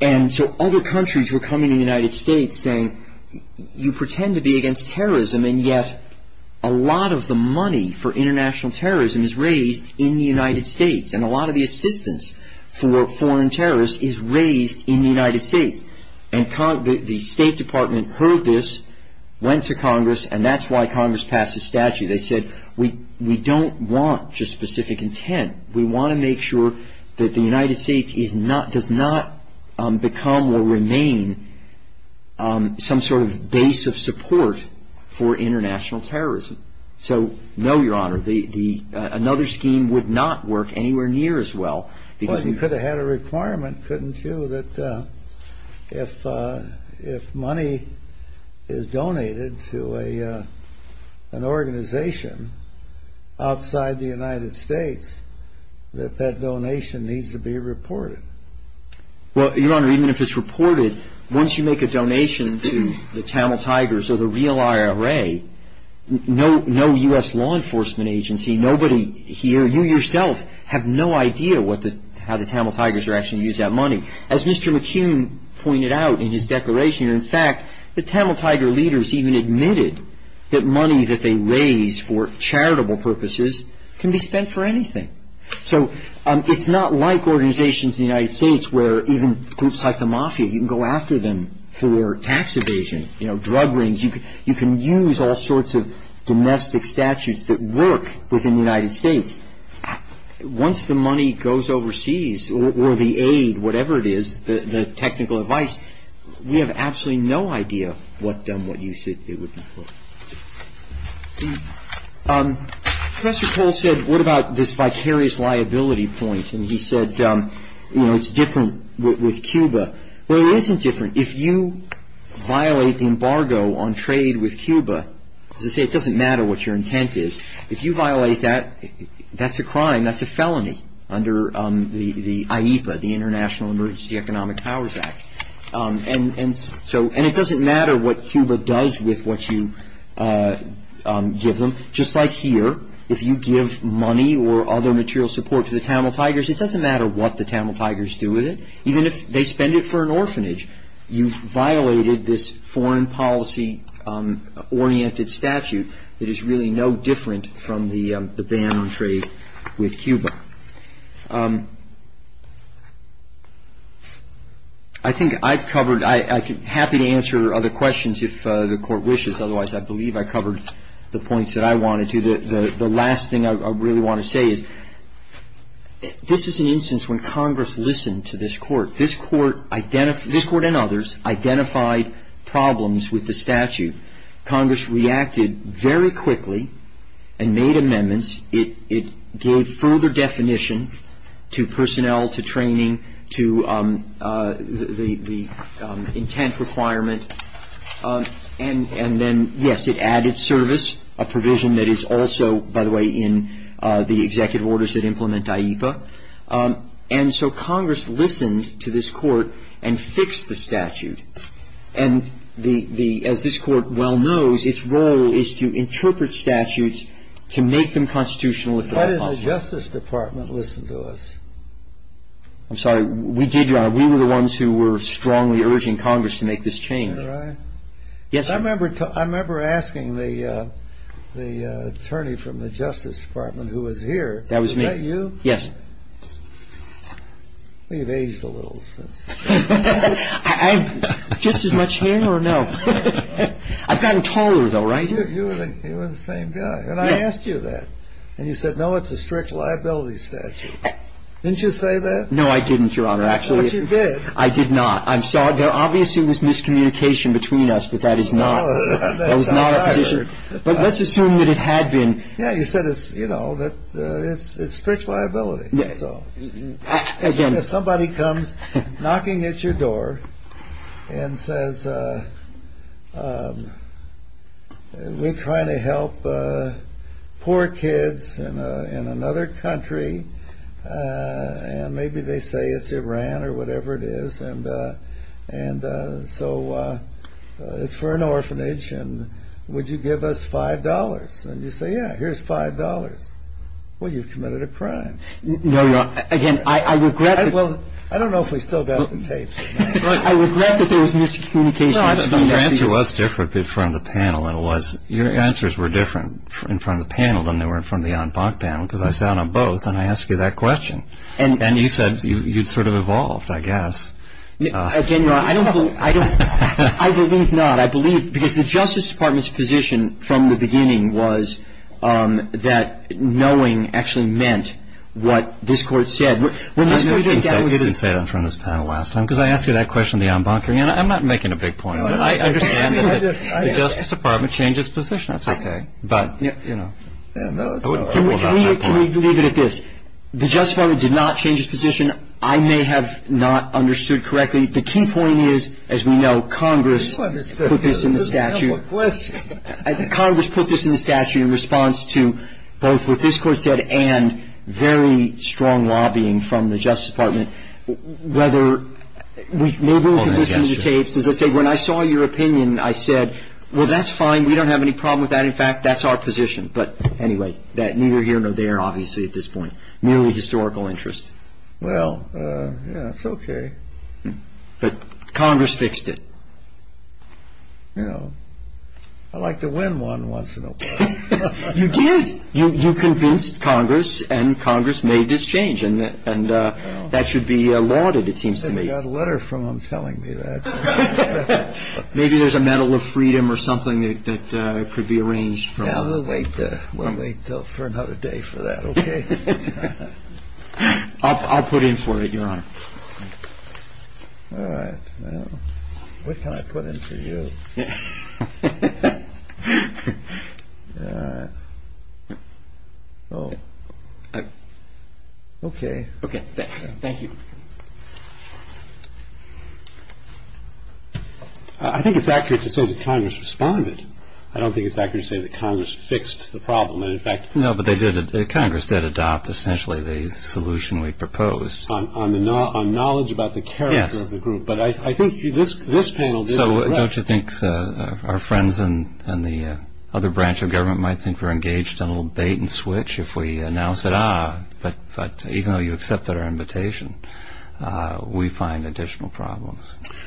And so other countries were coming to the United States saying, you pretend to be against terrorism, and yet a lot of the money for international terrorism is raised in the United States, and a lot of the assistance for foreign terrorists is raised in the United States. And the State Department heard this, went to Congress, and that's why Congress passed a statute. They said, we don't want just specific intent. We want to make sure that the United States does not become or remain some sort of base of support for international terrorism. So, no, Your Honor, another scheme would not work anywhere near as well. Well, you could have had a requirement, couldn't you, that if money is donated to an organization outside the United States, that that donation needs to be reported. Well, Your Honor, even if it's reported, once you make a donation to the Channel Tigers or the real IRA, no U.S. law enforcement agency, nobody here, you yourself, have no idea how the Channel Tigers are actually going to use that money. As Mr. McHugh pointed out in his declaration, in fact, the Channel Tiger leaders even admitted that money that they raise for charitable purposes can be spent for anything. So it's not like organizations in the United States where even groups like the Mafia, you can go after them for tax evasion, drug rings. You can use all sorts of domestic statutes that work within the United States. Once the money goes overseas, or the aid, whatever it is, the technical advice, we have absolutely no idea what you should do with it. Professor Cole said, what about this vicarious liability point? And he said, you know, it's different with Cuba. Well, it isn't different. If you violate the embargo on trade with Cuba, it doesn't matter what your intent is. If you violate that, that's a crime, that's a felony under the International Emergency Economic Powers Act. And it doesn't matter what Cuba does with what you give them. Just like here, if you give money or other material support to the Channel Tigers, it doesn't matter what the Channel Tigers do with it. Even if they spend it for an orphanage, you've violated this foreign policy-oriented statute that is really no different from the ban on trade with Cuba. I think I've covered, I'm happy to answer other questions if the Court wishes. Otherwise, I believe I covered the points that I wanted to. The last thing I really want to say is, this is an instance when Congress listened to this Court. This Court and others identified problems with the statute. Congress reacted very quickly and made amendments. It gave further definition to personnel, to training, to the intent requirement. And then, yes, it added service, a provision that is also, by the way, in the executive orders that implement AIPA. And so Congress listened to this Court and fixed the statute. And as this Court well knows, its role is to interpret statutes to make them constitutional. Why didn't the Justice Department listen to us? I'm sorry, we were the ones who were strongly urging Congress to make this change. Was I? Yes, sir. I remember asking the attorney from the Justice Department who was here. That was me. Was that you? Yes. We've aged a little since then. I'm just as much here now. I've gotten taller, though, right? It was the same guy. And I asked you that. And you said, no, it's a strict liability statute. Didn't you say that? No, I didn't, Your Honor. But you did. I did not. There obviously was miscommunication between us, but that is not a position. But let's assume that it had been. Yeah, you said it's strict liability. If somebody comes knocking at your door and says, we're trying to help poor kids in another country, and maybe they say it's Iran or whatever it is, and so it's for an orphanage, and would you give us $5? And you say, yeah, here's $5. Well, you've committed a crime. No, Your Honor. Again, I regret that there was miscommunication. Your answer was different in front of the panel than it was. Your answers were different in front of the panel than they were in front of the en banc panel, because I sat on both, and I asked you that question. And you said you sort of evolved, I guess. Again, Your Honor, I believe not. The Justice Department's position from the beginning was that knowing actually meant what this Court said. I don't think that was said in front of this panel last time, because I asked you that question in the en banc. I'm not making a big point. I understand that the Justice Department changed its position. That's okay. Can we leave it at this? The Justice Department did not change its position. I may have not understood correctly. The key point is, as we know, Congress put this in the statute. Congress put this in the statute in response to both what this Court said and very strong lobbying from the Justice Department. Maybe we can just use the tapes. When I saw your opinion, I said, well, that's fine. We don't have any problem with that. In fact, that's our position. But anyway, neither here nor there, obviously, at this point. Merely historical interest. Well, yeah, it's okay. But Congress fixed it. You know, I like to win one once in a while. You did. You convinced Congress, and Congress made this change. And that should be lauded, it seems to me. I got a letter from them telling me that. Maybe there's a Medal of Freedom or something that could be arranged. We'll wait for another day for that. Okay. I'll put it in for you, Your Honor. All right. What can I put in for you? Okay. Thank you. I think it's accurate to say that Congress responded. I don't think it's accurate to say that Congress fixed the problem. No, but they did. Congress did adopt, essentially, the solution we proposed. On knowledge about the character of the group. Yes. But I think this panel did. So don't you think our friends in the other branch of government might think we're engaged in a little bait and switch if we announce it? Ah, but even though you accepted our invitation, we find additional problems.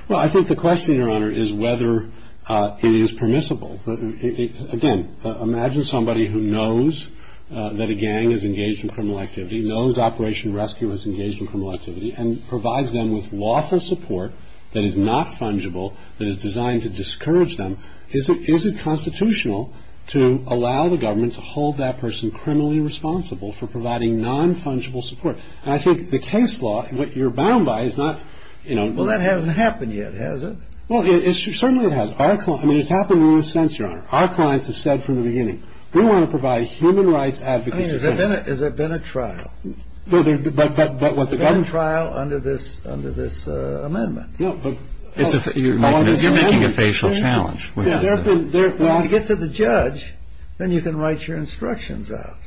Well, I think the question, Your Honor, is whether it is permissible. Again, imagine somebody who knows that a gang is engaged in criminal activity, knows Operation Rescue is engaged in criminal activity, and provides them with lawful support that is not fungible, that is designed to discourage them. Is it constitutional to allow the government to hold that person criminally responsible for providing non-fungible support? And I think the case law, what you're bound by, is not, you know. Well, that hasn't happened yet, has it? Well, certainly it has. I mean, it's happened more since, Your Honor. Our clients have said from the beginning, we want to provide human rights advocacy training. I mean, has there been a trial? There's been a trial under this amendment. You're making a facial challenge. When you get to the judge, then you can write your instructions out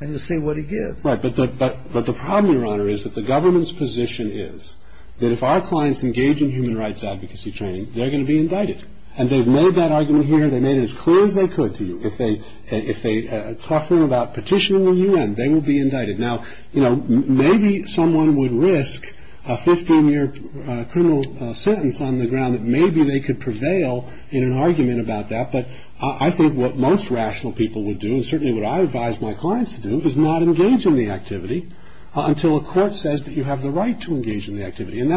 and you'll see what he gives. Right, but the problem, Your Honor, is that the government's position is that if our clients engage in human rights advocacy training, they're going to be indicted. And they've made that argument here. They've made it as clear as they could to you. If they talk to you about petitioning the U.N., they will be indicted. Now, you know, maybe someone would risk a 15-year criminal sentence on the ground that maybe they could prevail in an argument about that. But I think what most rational people would do, and certainly what I advise my clients to do, is not engage in the activity until a court says that you have the right to engage in the activity. And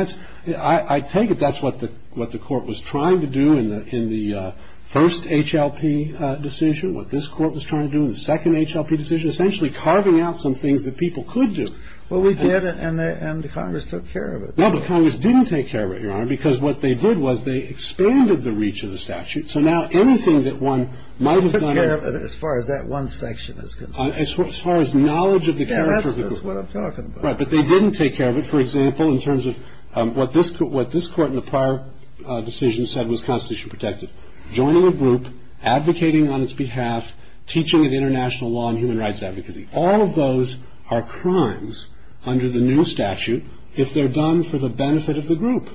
I take it that's what the court was trying to do in the first HLP decision, what this court was trying to do in the second HLP decision, essentially carving out some things that people could do. Well, we did, and Congress took care of it. No, but Congress didn't take care of it, Your Honor, because what they did was they expanded the reach of the statute. So now anything that one might have done... They took care of it as far as that one section is concerned. As far as knowledge of the character of the group. That's what I'm talking about. Right, but they didn't take care of it, for example, in terms of what this court in the prior decision said was constitutionally protected. Joining a group, advocating on its behalf, teaching of international law and human rights advocacy. All of those are crimes under the new statute if they're done for the benefit of the group.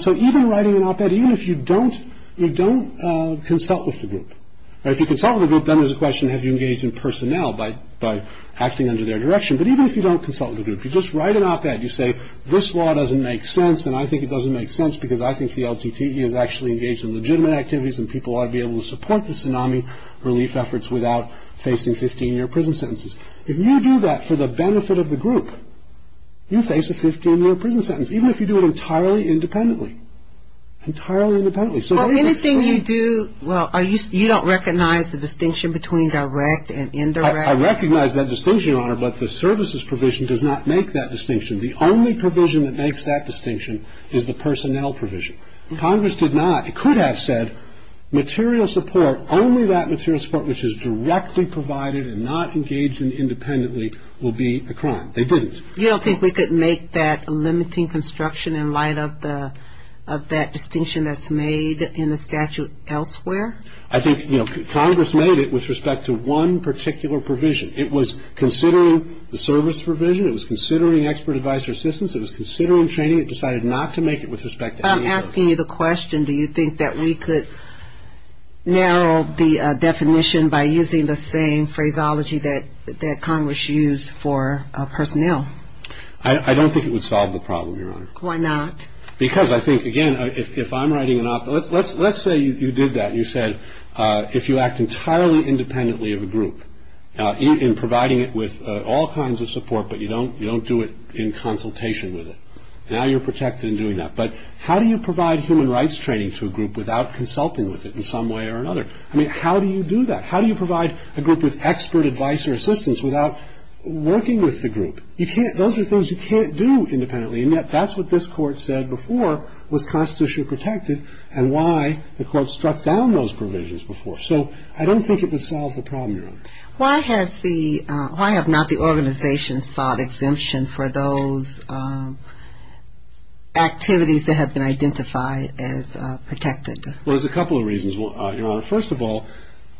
So even writing an op-ed, even if you don't consult with the group. If you consult with the group, then there's a question, have you engaged in personnel by acting under their direction? But even if you don't consult with the group, you just write an op-ed, you say, this law doesn't make sense, and I think it doesn't make sense because I think the LTTE is actually engaged in legitimate activities and people ought to be able to support the tsunami relief efforts without facing 15-year prison sentences. If you do that for the benefit of the group, you face a 15-year prison sentence. Even if you do it entirely independently. Entirely independently. Anything you do, well, you don't recognize the distinction between direct and indirect? I recognize that distinction, Your Honor, but the services provision does not make that distinction. The only provision that makes that distinction is the personnel provision. Congress did not. It could have said material support, only that material support which is directly provided and not engaged in independently will be a crime. They didn't. You don't think we could make that limiting construction in light of that distinction that's made in the statute elsewhere? I think, you know, Congress made it with respect to one particular provision. It was considering the service provision. It was considering expert advisor assistance. It was considering training. It decided not to make it with respect to any other. Do you think that we could narrow the definition by using the same phraseology that Congress used for personnel? I don't think it would solve the problem, Your Honor. Why not? Because I think, again, if I'm writing it off, let's say you did that and you said if you act entirely independently of a group, in providing it with all kinds of support but you don't do it in consultation with it, now you're protected in doing that. But how do you provide human rights training to a group without consulting with it in some way or another? I mean, how do you do that? How do you provide a group with expert advice or assistance without working with the group? You can't. Those are things you can't do independently, and yet that's what this Court said before was constitutionally protected and why the Court struck down those provisions before. Why have not the organization sought exemption for those activities that have been identified as protected? Well, there's a couple of reasons, Your Honor. First of all,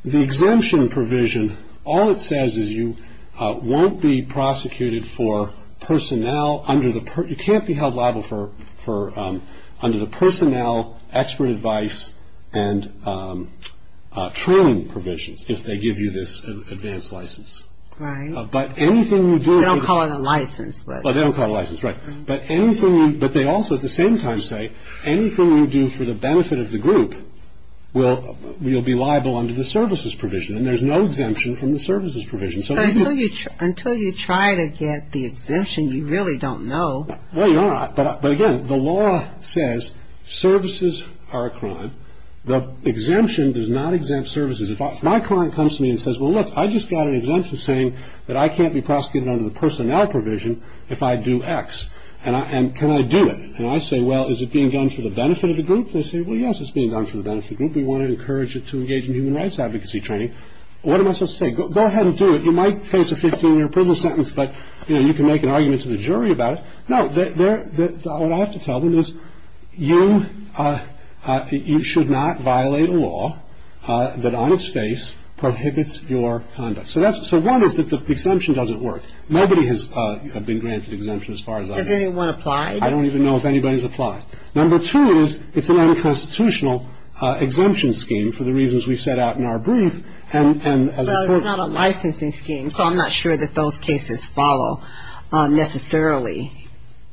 the exemption provision, all it says is you won't be prosecuted for personnel under the personnel, expert advice, and training provisions if they give you this advanced license. Right. They don't call it a license. They don't call it a license, right. But they also at the same time say anything you do for the benefit of the group will be liable under the services provision, and there's no exemption in the services provision. Until you try to get the exemption, you really don't know. Well, Your Honor, but again, the law says services are a crime. The exemption does not exempt services. If my client comes to me and says, well, look, I just got an exemption saying that I can't be prosecuted under the personnel provision if I do X. And can I do it? And I say, well, is it being done for the benefit of the group? They say, well, yes, it's being done for the benefit of the group. We want to encourage it to engage in human rights advocacy training. What am I supposed to say? Go ahead and do it. You might face a 15-year prison sentence, but, you know, you can make an argument to the jury about it. No, what I have to tell them is you should not violate a law that on its face prohibits your conduct. So one is that the exemption doesn't work. Nobody has been granted exemption as far as I know. Has anyone applied? I don't even know if anybody's applied. Number two is it's an unconstitutional exemption scheme for the reasons we set out in our brief. Well, it's not a licensing scheme, so I'm not sure that those cases follow necessarily.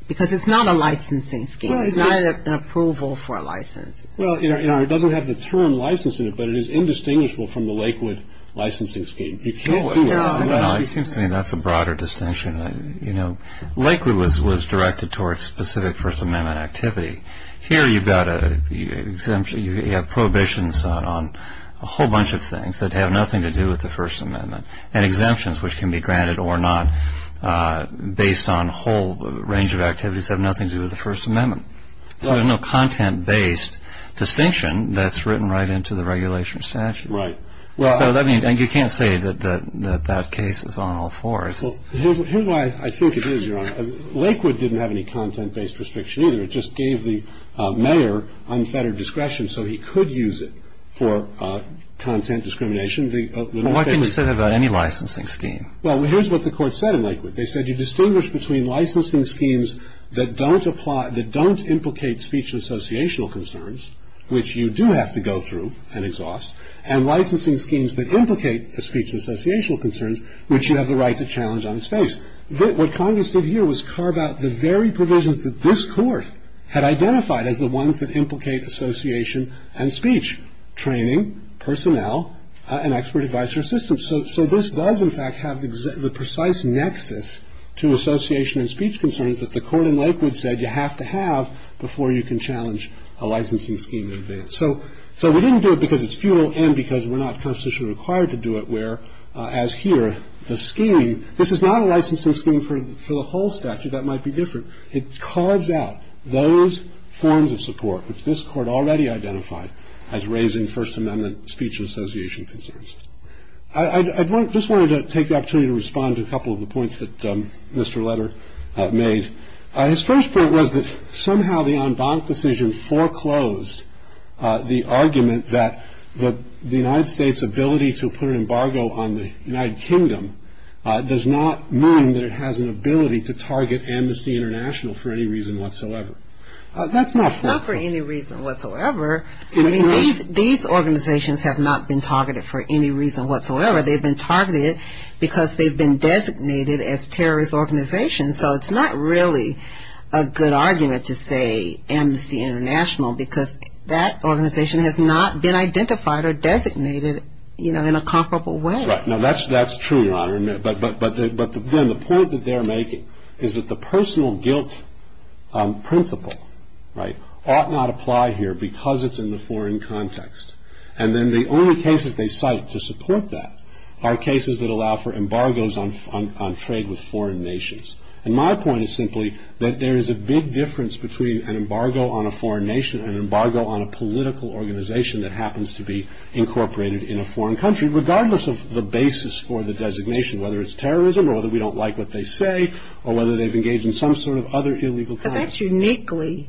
Because it's not a licensing scheme. It's not an approval for a license. Well, you know, it doesn't have the term licensing, but it is indistinguishable from the Lakewood licensing scheme. You can't do it. No. I mean, that's a broader distinction. You know, Lakewood was directed towards specific First Amendment activity. Here you've got a prohibition on a whole bunch of things that have nothing to do with the First Amendment, and exemptions which can be granted or not based on a whole range of activities have nothing to do with the First Amendment. So there's no content-based distinction that's written right into the regulation of statute. Right. And you can't say that that case is on all fours. Here's why I think it is, Your Honor. Lakewood didn't have any content-based restriction either. It just gave the mayor unfettered discretion so he could use it for content discrimination. Well, why can't we still have any licensing scheme? Well, here's what the court said in Lakewood. They said you distinguish between licensing schemes that don't implicate speech and associational concerns, which you do have to go through and exhaust, and licensing schemes that implicate speech and associational concerns, which you have the right to challenge on its face. What Congress did here was carve out the very provisions that this court had identified as the ones that implicate association and speech, training, personnel, and expert advice or assistance. So this does, in fact, have the precise nexus to association and speech concerns that the court in Lakewood said you have to have before you can challenge a licensing scheme in advance. So we didn't do it because it's futile and because we're not constitutionally required to do it, where, as here, the scheme, this is not a licensing scheme for the whole statute. That might be different. It carves out those forms of support which this court already identified as raising First Amendment speech and association concerns. I just wanted to take the opportunity to respond to a couple of the points that Mr. Letter made. His first point was that somehow the en banc decision foreclosed the argument that the United States' ability to put an embargo on the United Kingdom does not mean that it has an ability to target Amnesty International for any reason whatsoever. That's not foreclosed. Not for any reason whatsoever. I mean, these organizations have not been targeted for any reason whatsoever. They've been targeted because they've been designated as terrorist organizations, so it's not really a good argument to say Amnesty International because that organization has not been identified or designated, you know, in a comparable way. Right. Now, that's true, Your Honor, but, again, the point that they're making is that the personal guilt principle, right, ought not apply here because it's in the foreign context. And then the only cases they cite to support that are cases that allow for embargoes on trade with foreign nations. And my point is simply that there is a big difference between an embargo on a foreign nation and an embargo on a political organization that happens to be incorporated in a foreign country, regardless of the basis for the designation, whether it's terrorism or whether we don't like what they say or whether they've engaged in some sort of other illegal thing. But that's uniquely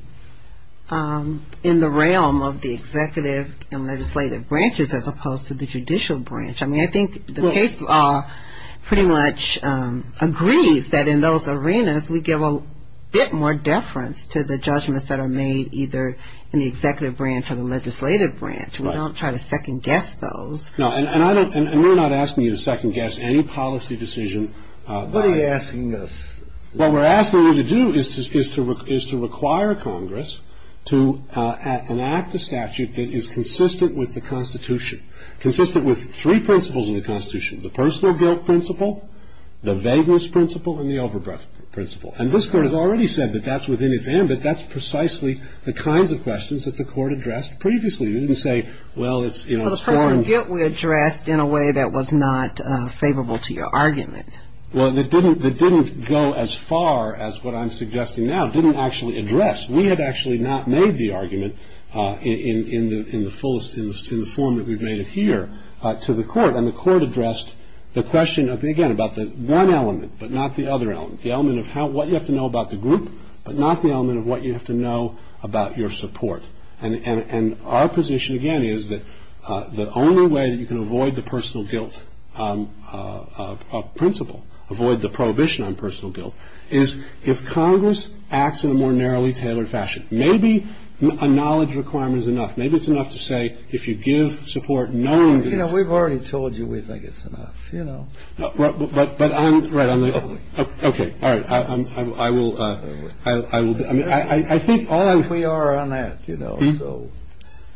in the realm of the executive and legislative branches as opposed to the judicial branch. I mean, I think the case pretty much agrees that in those arenas we give a bit more deference to the judgments that are made either in the executive branch or the legislative branch. We don't try to second guess those. No, and we're not asking you to second guess any policy decision. What are you asking us? What we're asking you to do is to require Congress to enact a statute that is consistent with the Constitution, consistent with three principles of the Constitution, the personal guilt principle, the vagueness principle, and the overbreadth principle. And this Court has already said that that's within its hand, but that's precisely the kinds of questions that the Court addressed previously. It didn't say, well, it's foreign. Well, the personal guilt was addressed in a way that was not favorable to your argument. Well, it didn't go as far as what I'm suggesting now. It didn't actually address. We had actually not made the argument in the fullest, in the form that we've made it here, to the Court. And the Court addressed the question, again, about the one element but not the other element, the element of what you have to know about the group but not the element of what you have to know about your support. And our position, again, is that the only way that you can avoid the personal guilt principle, avoid the prohibition on personal guilt, is if Congress acts in a more narrowly tailored fashion. Maybe a knowledge requirement is enough. Maybe it's enough to say if you give support knowingly. You know, we've already told you we think it's enough, you know. But I'm right. OK. All right. I will. I will. I think all we are on that, you know, so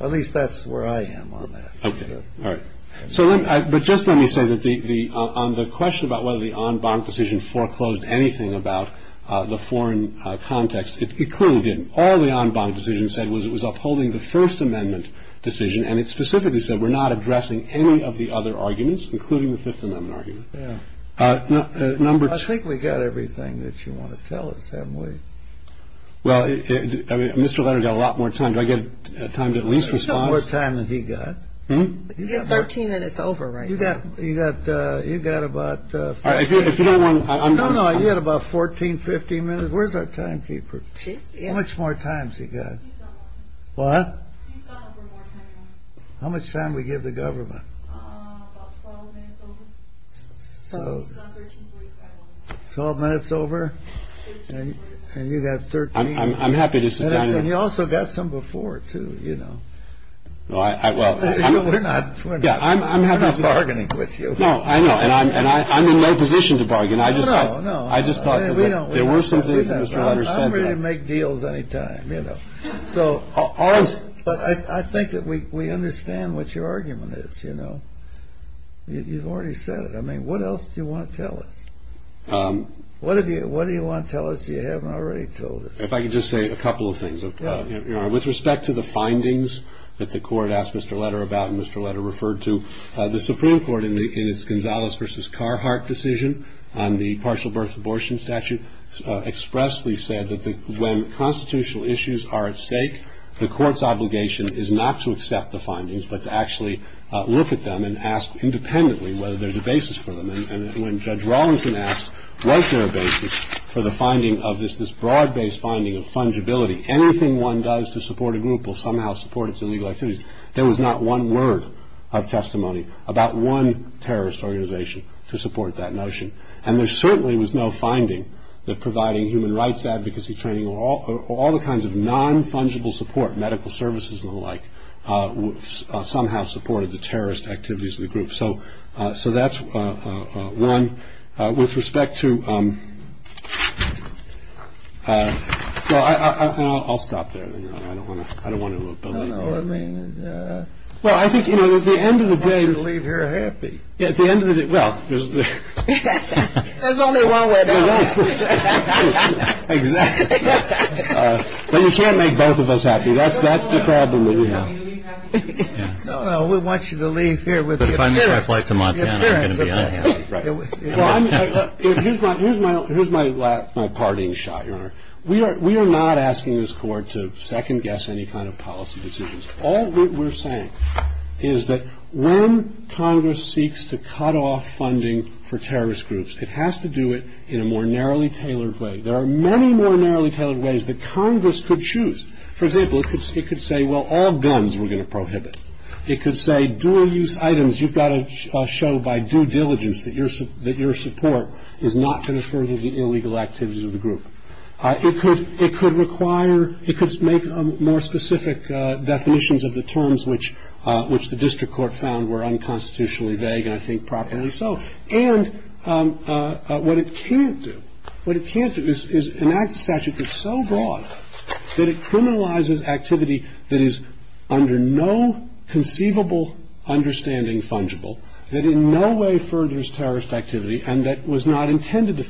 at least that's where I am on that. OK. All right. So just let me say that on the question about whether the en banc decision foreclosed anything about the foreign context, it clearly didn't. All the en banc decision said was it was upholding the First Amendment decision, and it specifically said we're not addressing any of the other arguments, including the Fifth Amendment argument. Number two. I think we got everything that you want to tell us, haven't we? Well, I mean, Mr. Leonard got a lot more time. Did I get time to at least respond? You got 13 minutes over, right? You got about 14, 15 minutes. Where's our timekeeper? How much more time has he got? What? How much time we give the government? Twelve minutes over. And you got 13. I'm happy to sit down. And you also got some before, too, you know. Well, I. We're not bargaining with you. No, I know. And I'm in no position to bargain. I just. No, no. I just. We don't. I'm ready to make deals any time, you know. So. But I think that we understand what your argument is, you know. You've already said it. I mean, what else do you want to tell us? What do you want to tell us you haven't already told us? If I could just say a couple of things. With respect to the findings that the court asked Mr. Letter about and Mr. Letter referred to, the Supreme Court in its Gonzalez versus Carhart decision on the partial birth abortion statute expressed, we said that when constitutional issues are at stake, the court's obligation is not to accept the findings, but to actually look at them and ask independently whether there's a basis for them. And when Judge Rawlinson asked what's their basis for the finding of this, this broad-based finding of fungibility, anything one does to support a group will somehow support its illegal activities. There was not one word of testimony about one terrorist organization to support that notion. And there certainly was no finding that providing human rights advocacy training or all the kinds of non-fungible support, medical services and the like, somehow supported the terrorist activities of the group. So that's one. With respect to. I'll stop there. I don't want to. I don't want to. Well, I think, you know, at the end of the day, you leave here happy. At the end of it. Well, there's only one way. You can't make both of us happy. That's the problem. Oh, we want you to leave here with. Here's my here's my last parting shot. We are we are not asking this court to second guess any kind of policy decisions. All we're saying is that when Congress seeks to cut off funding for terrorist groups, it has to do it in a more narrowly tailored way. There are many more narrowly tailored ways that Congress could choose. For example, it could say, well, all guns we're going to prohibit. It could say dual use items. You've got to show by due diligence that you're that your support is not for the illegal activities of the group. It could it could require it could make more specific definitions of the terms which which the district court found were unconstitutionally vague and I think properly. So and what it can't do what it can't do is enact a statute that's so broad that it criminalizes activity that is under no conceivable understanding, fungible that in no way furthers terrorist activity. And that was not intended to.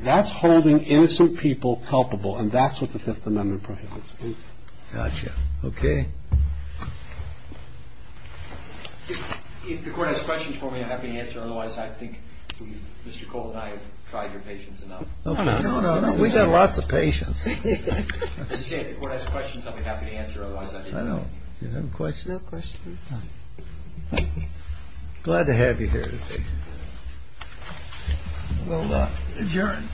That's holding innocent people culpable. And that's what the Fifth Amendment prohibits. OK. If the court has questions for me, I'm happy to answer. Otherwise, I think Mr. Cole and I have tried your patience enough. No, no, no, no. We've got lots of patience. If the court has questions, I'll be happy to answer. Otherwise, I know you haven't questioned that question. Glad to have you here. Well, adjourned.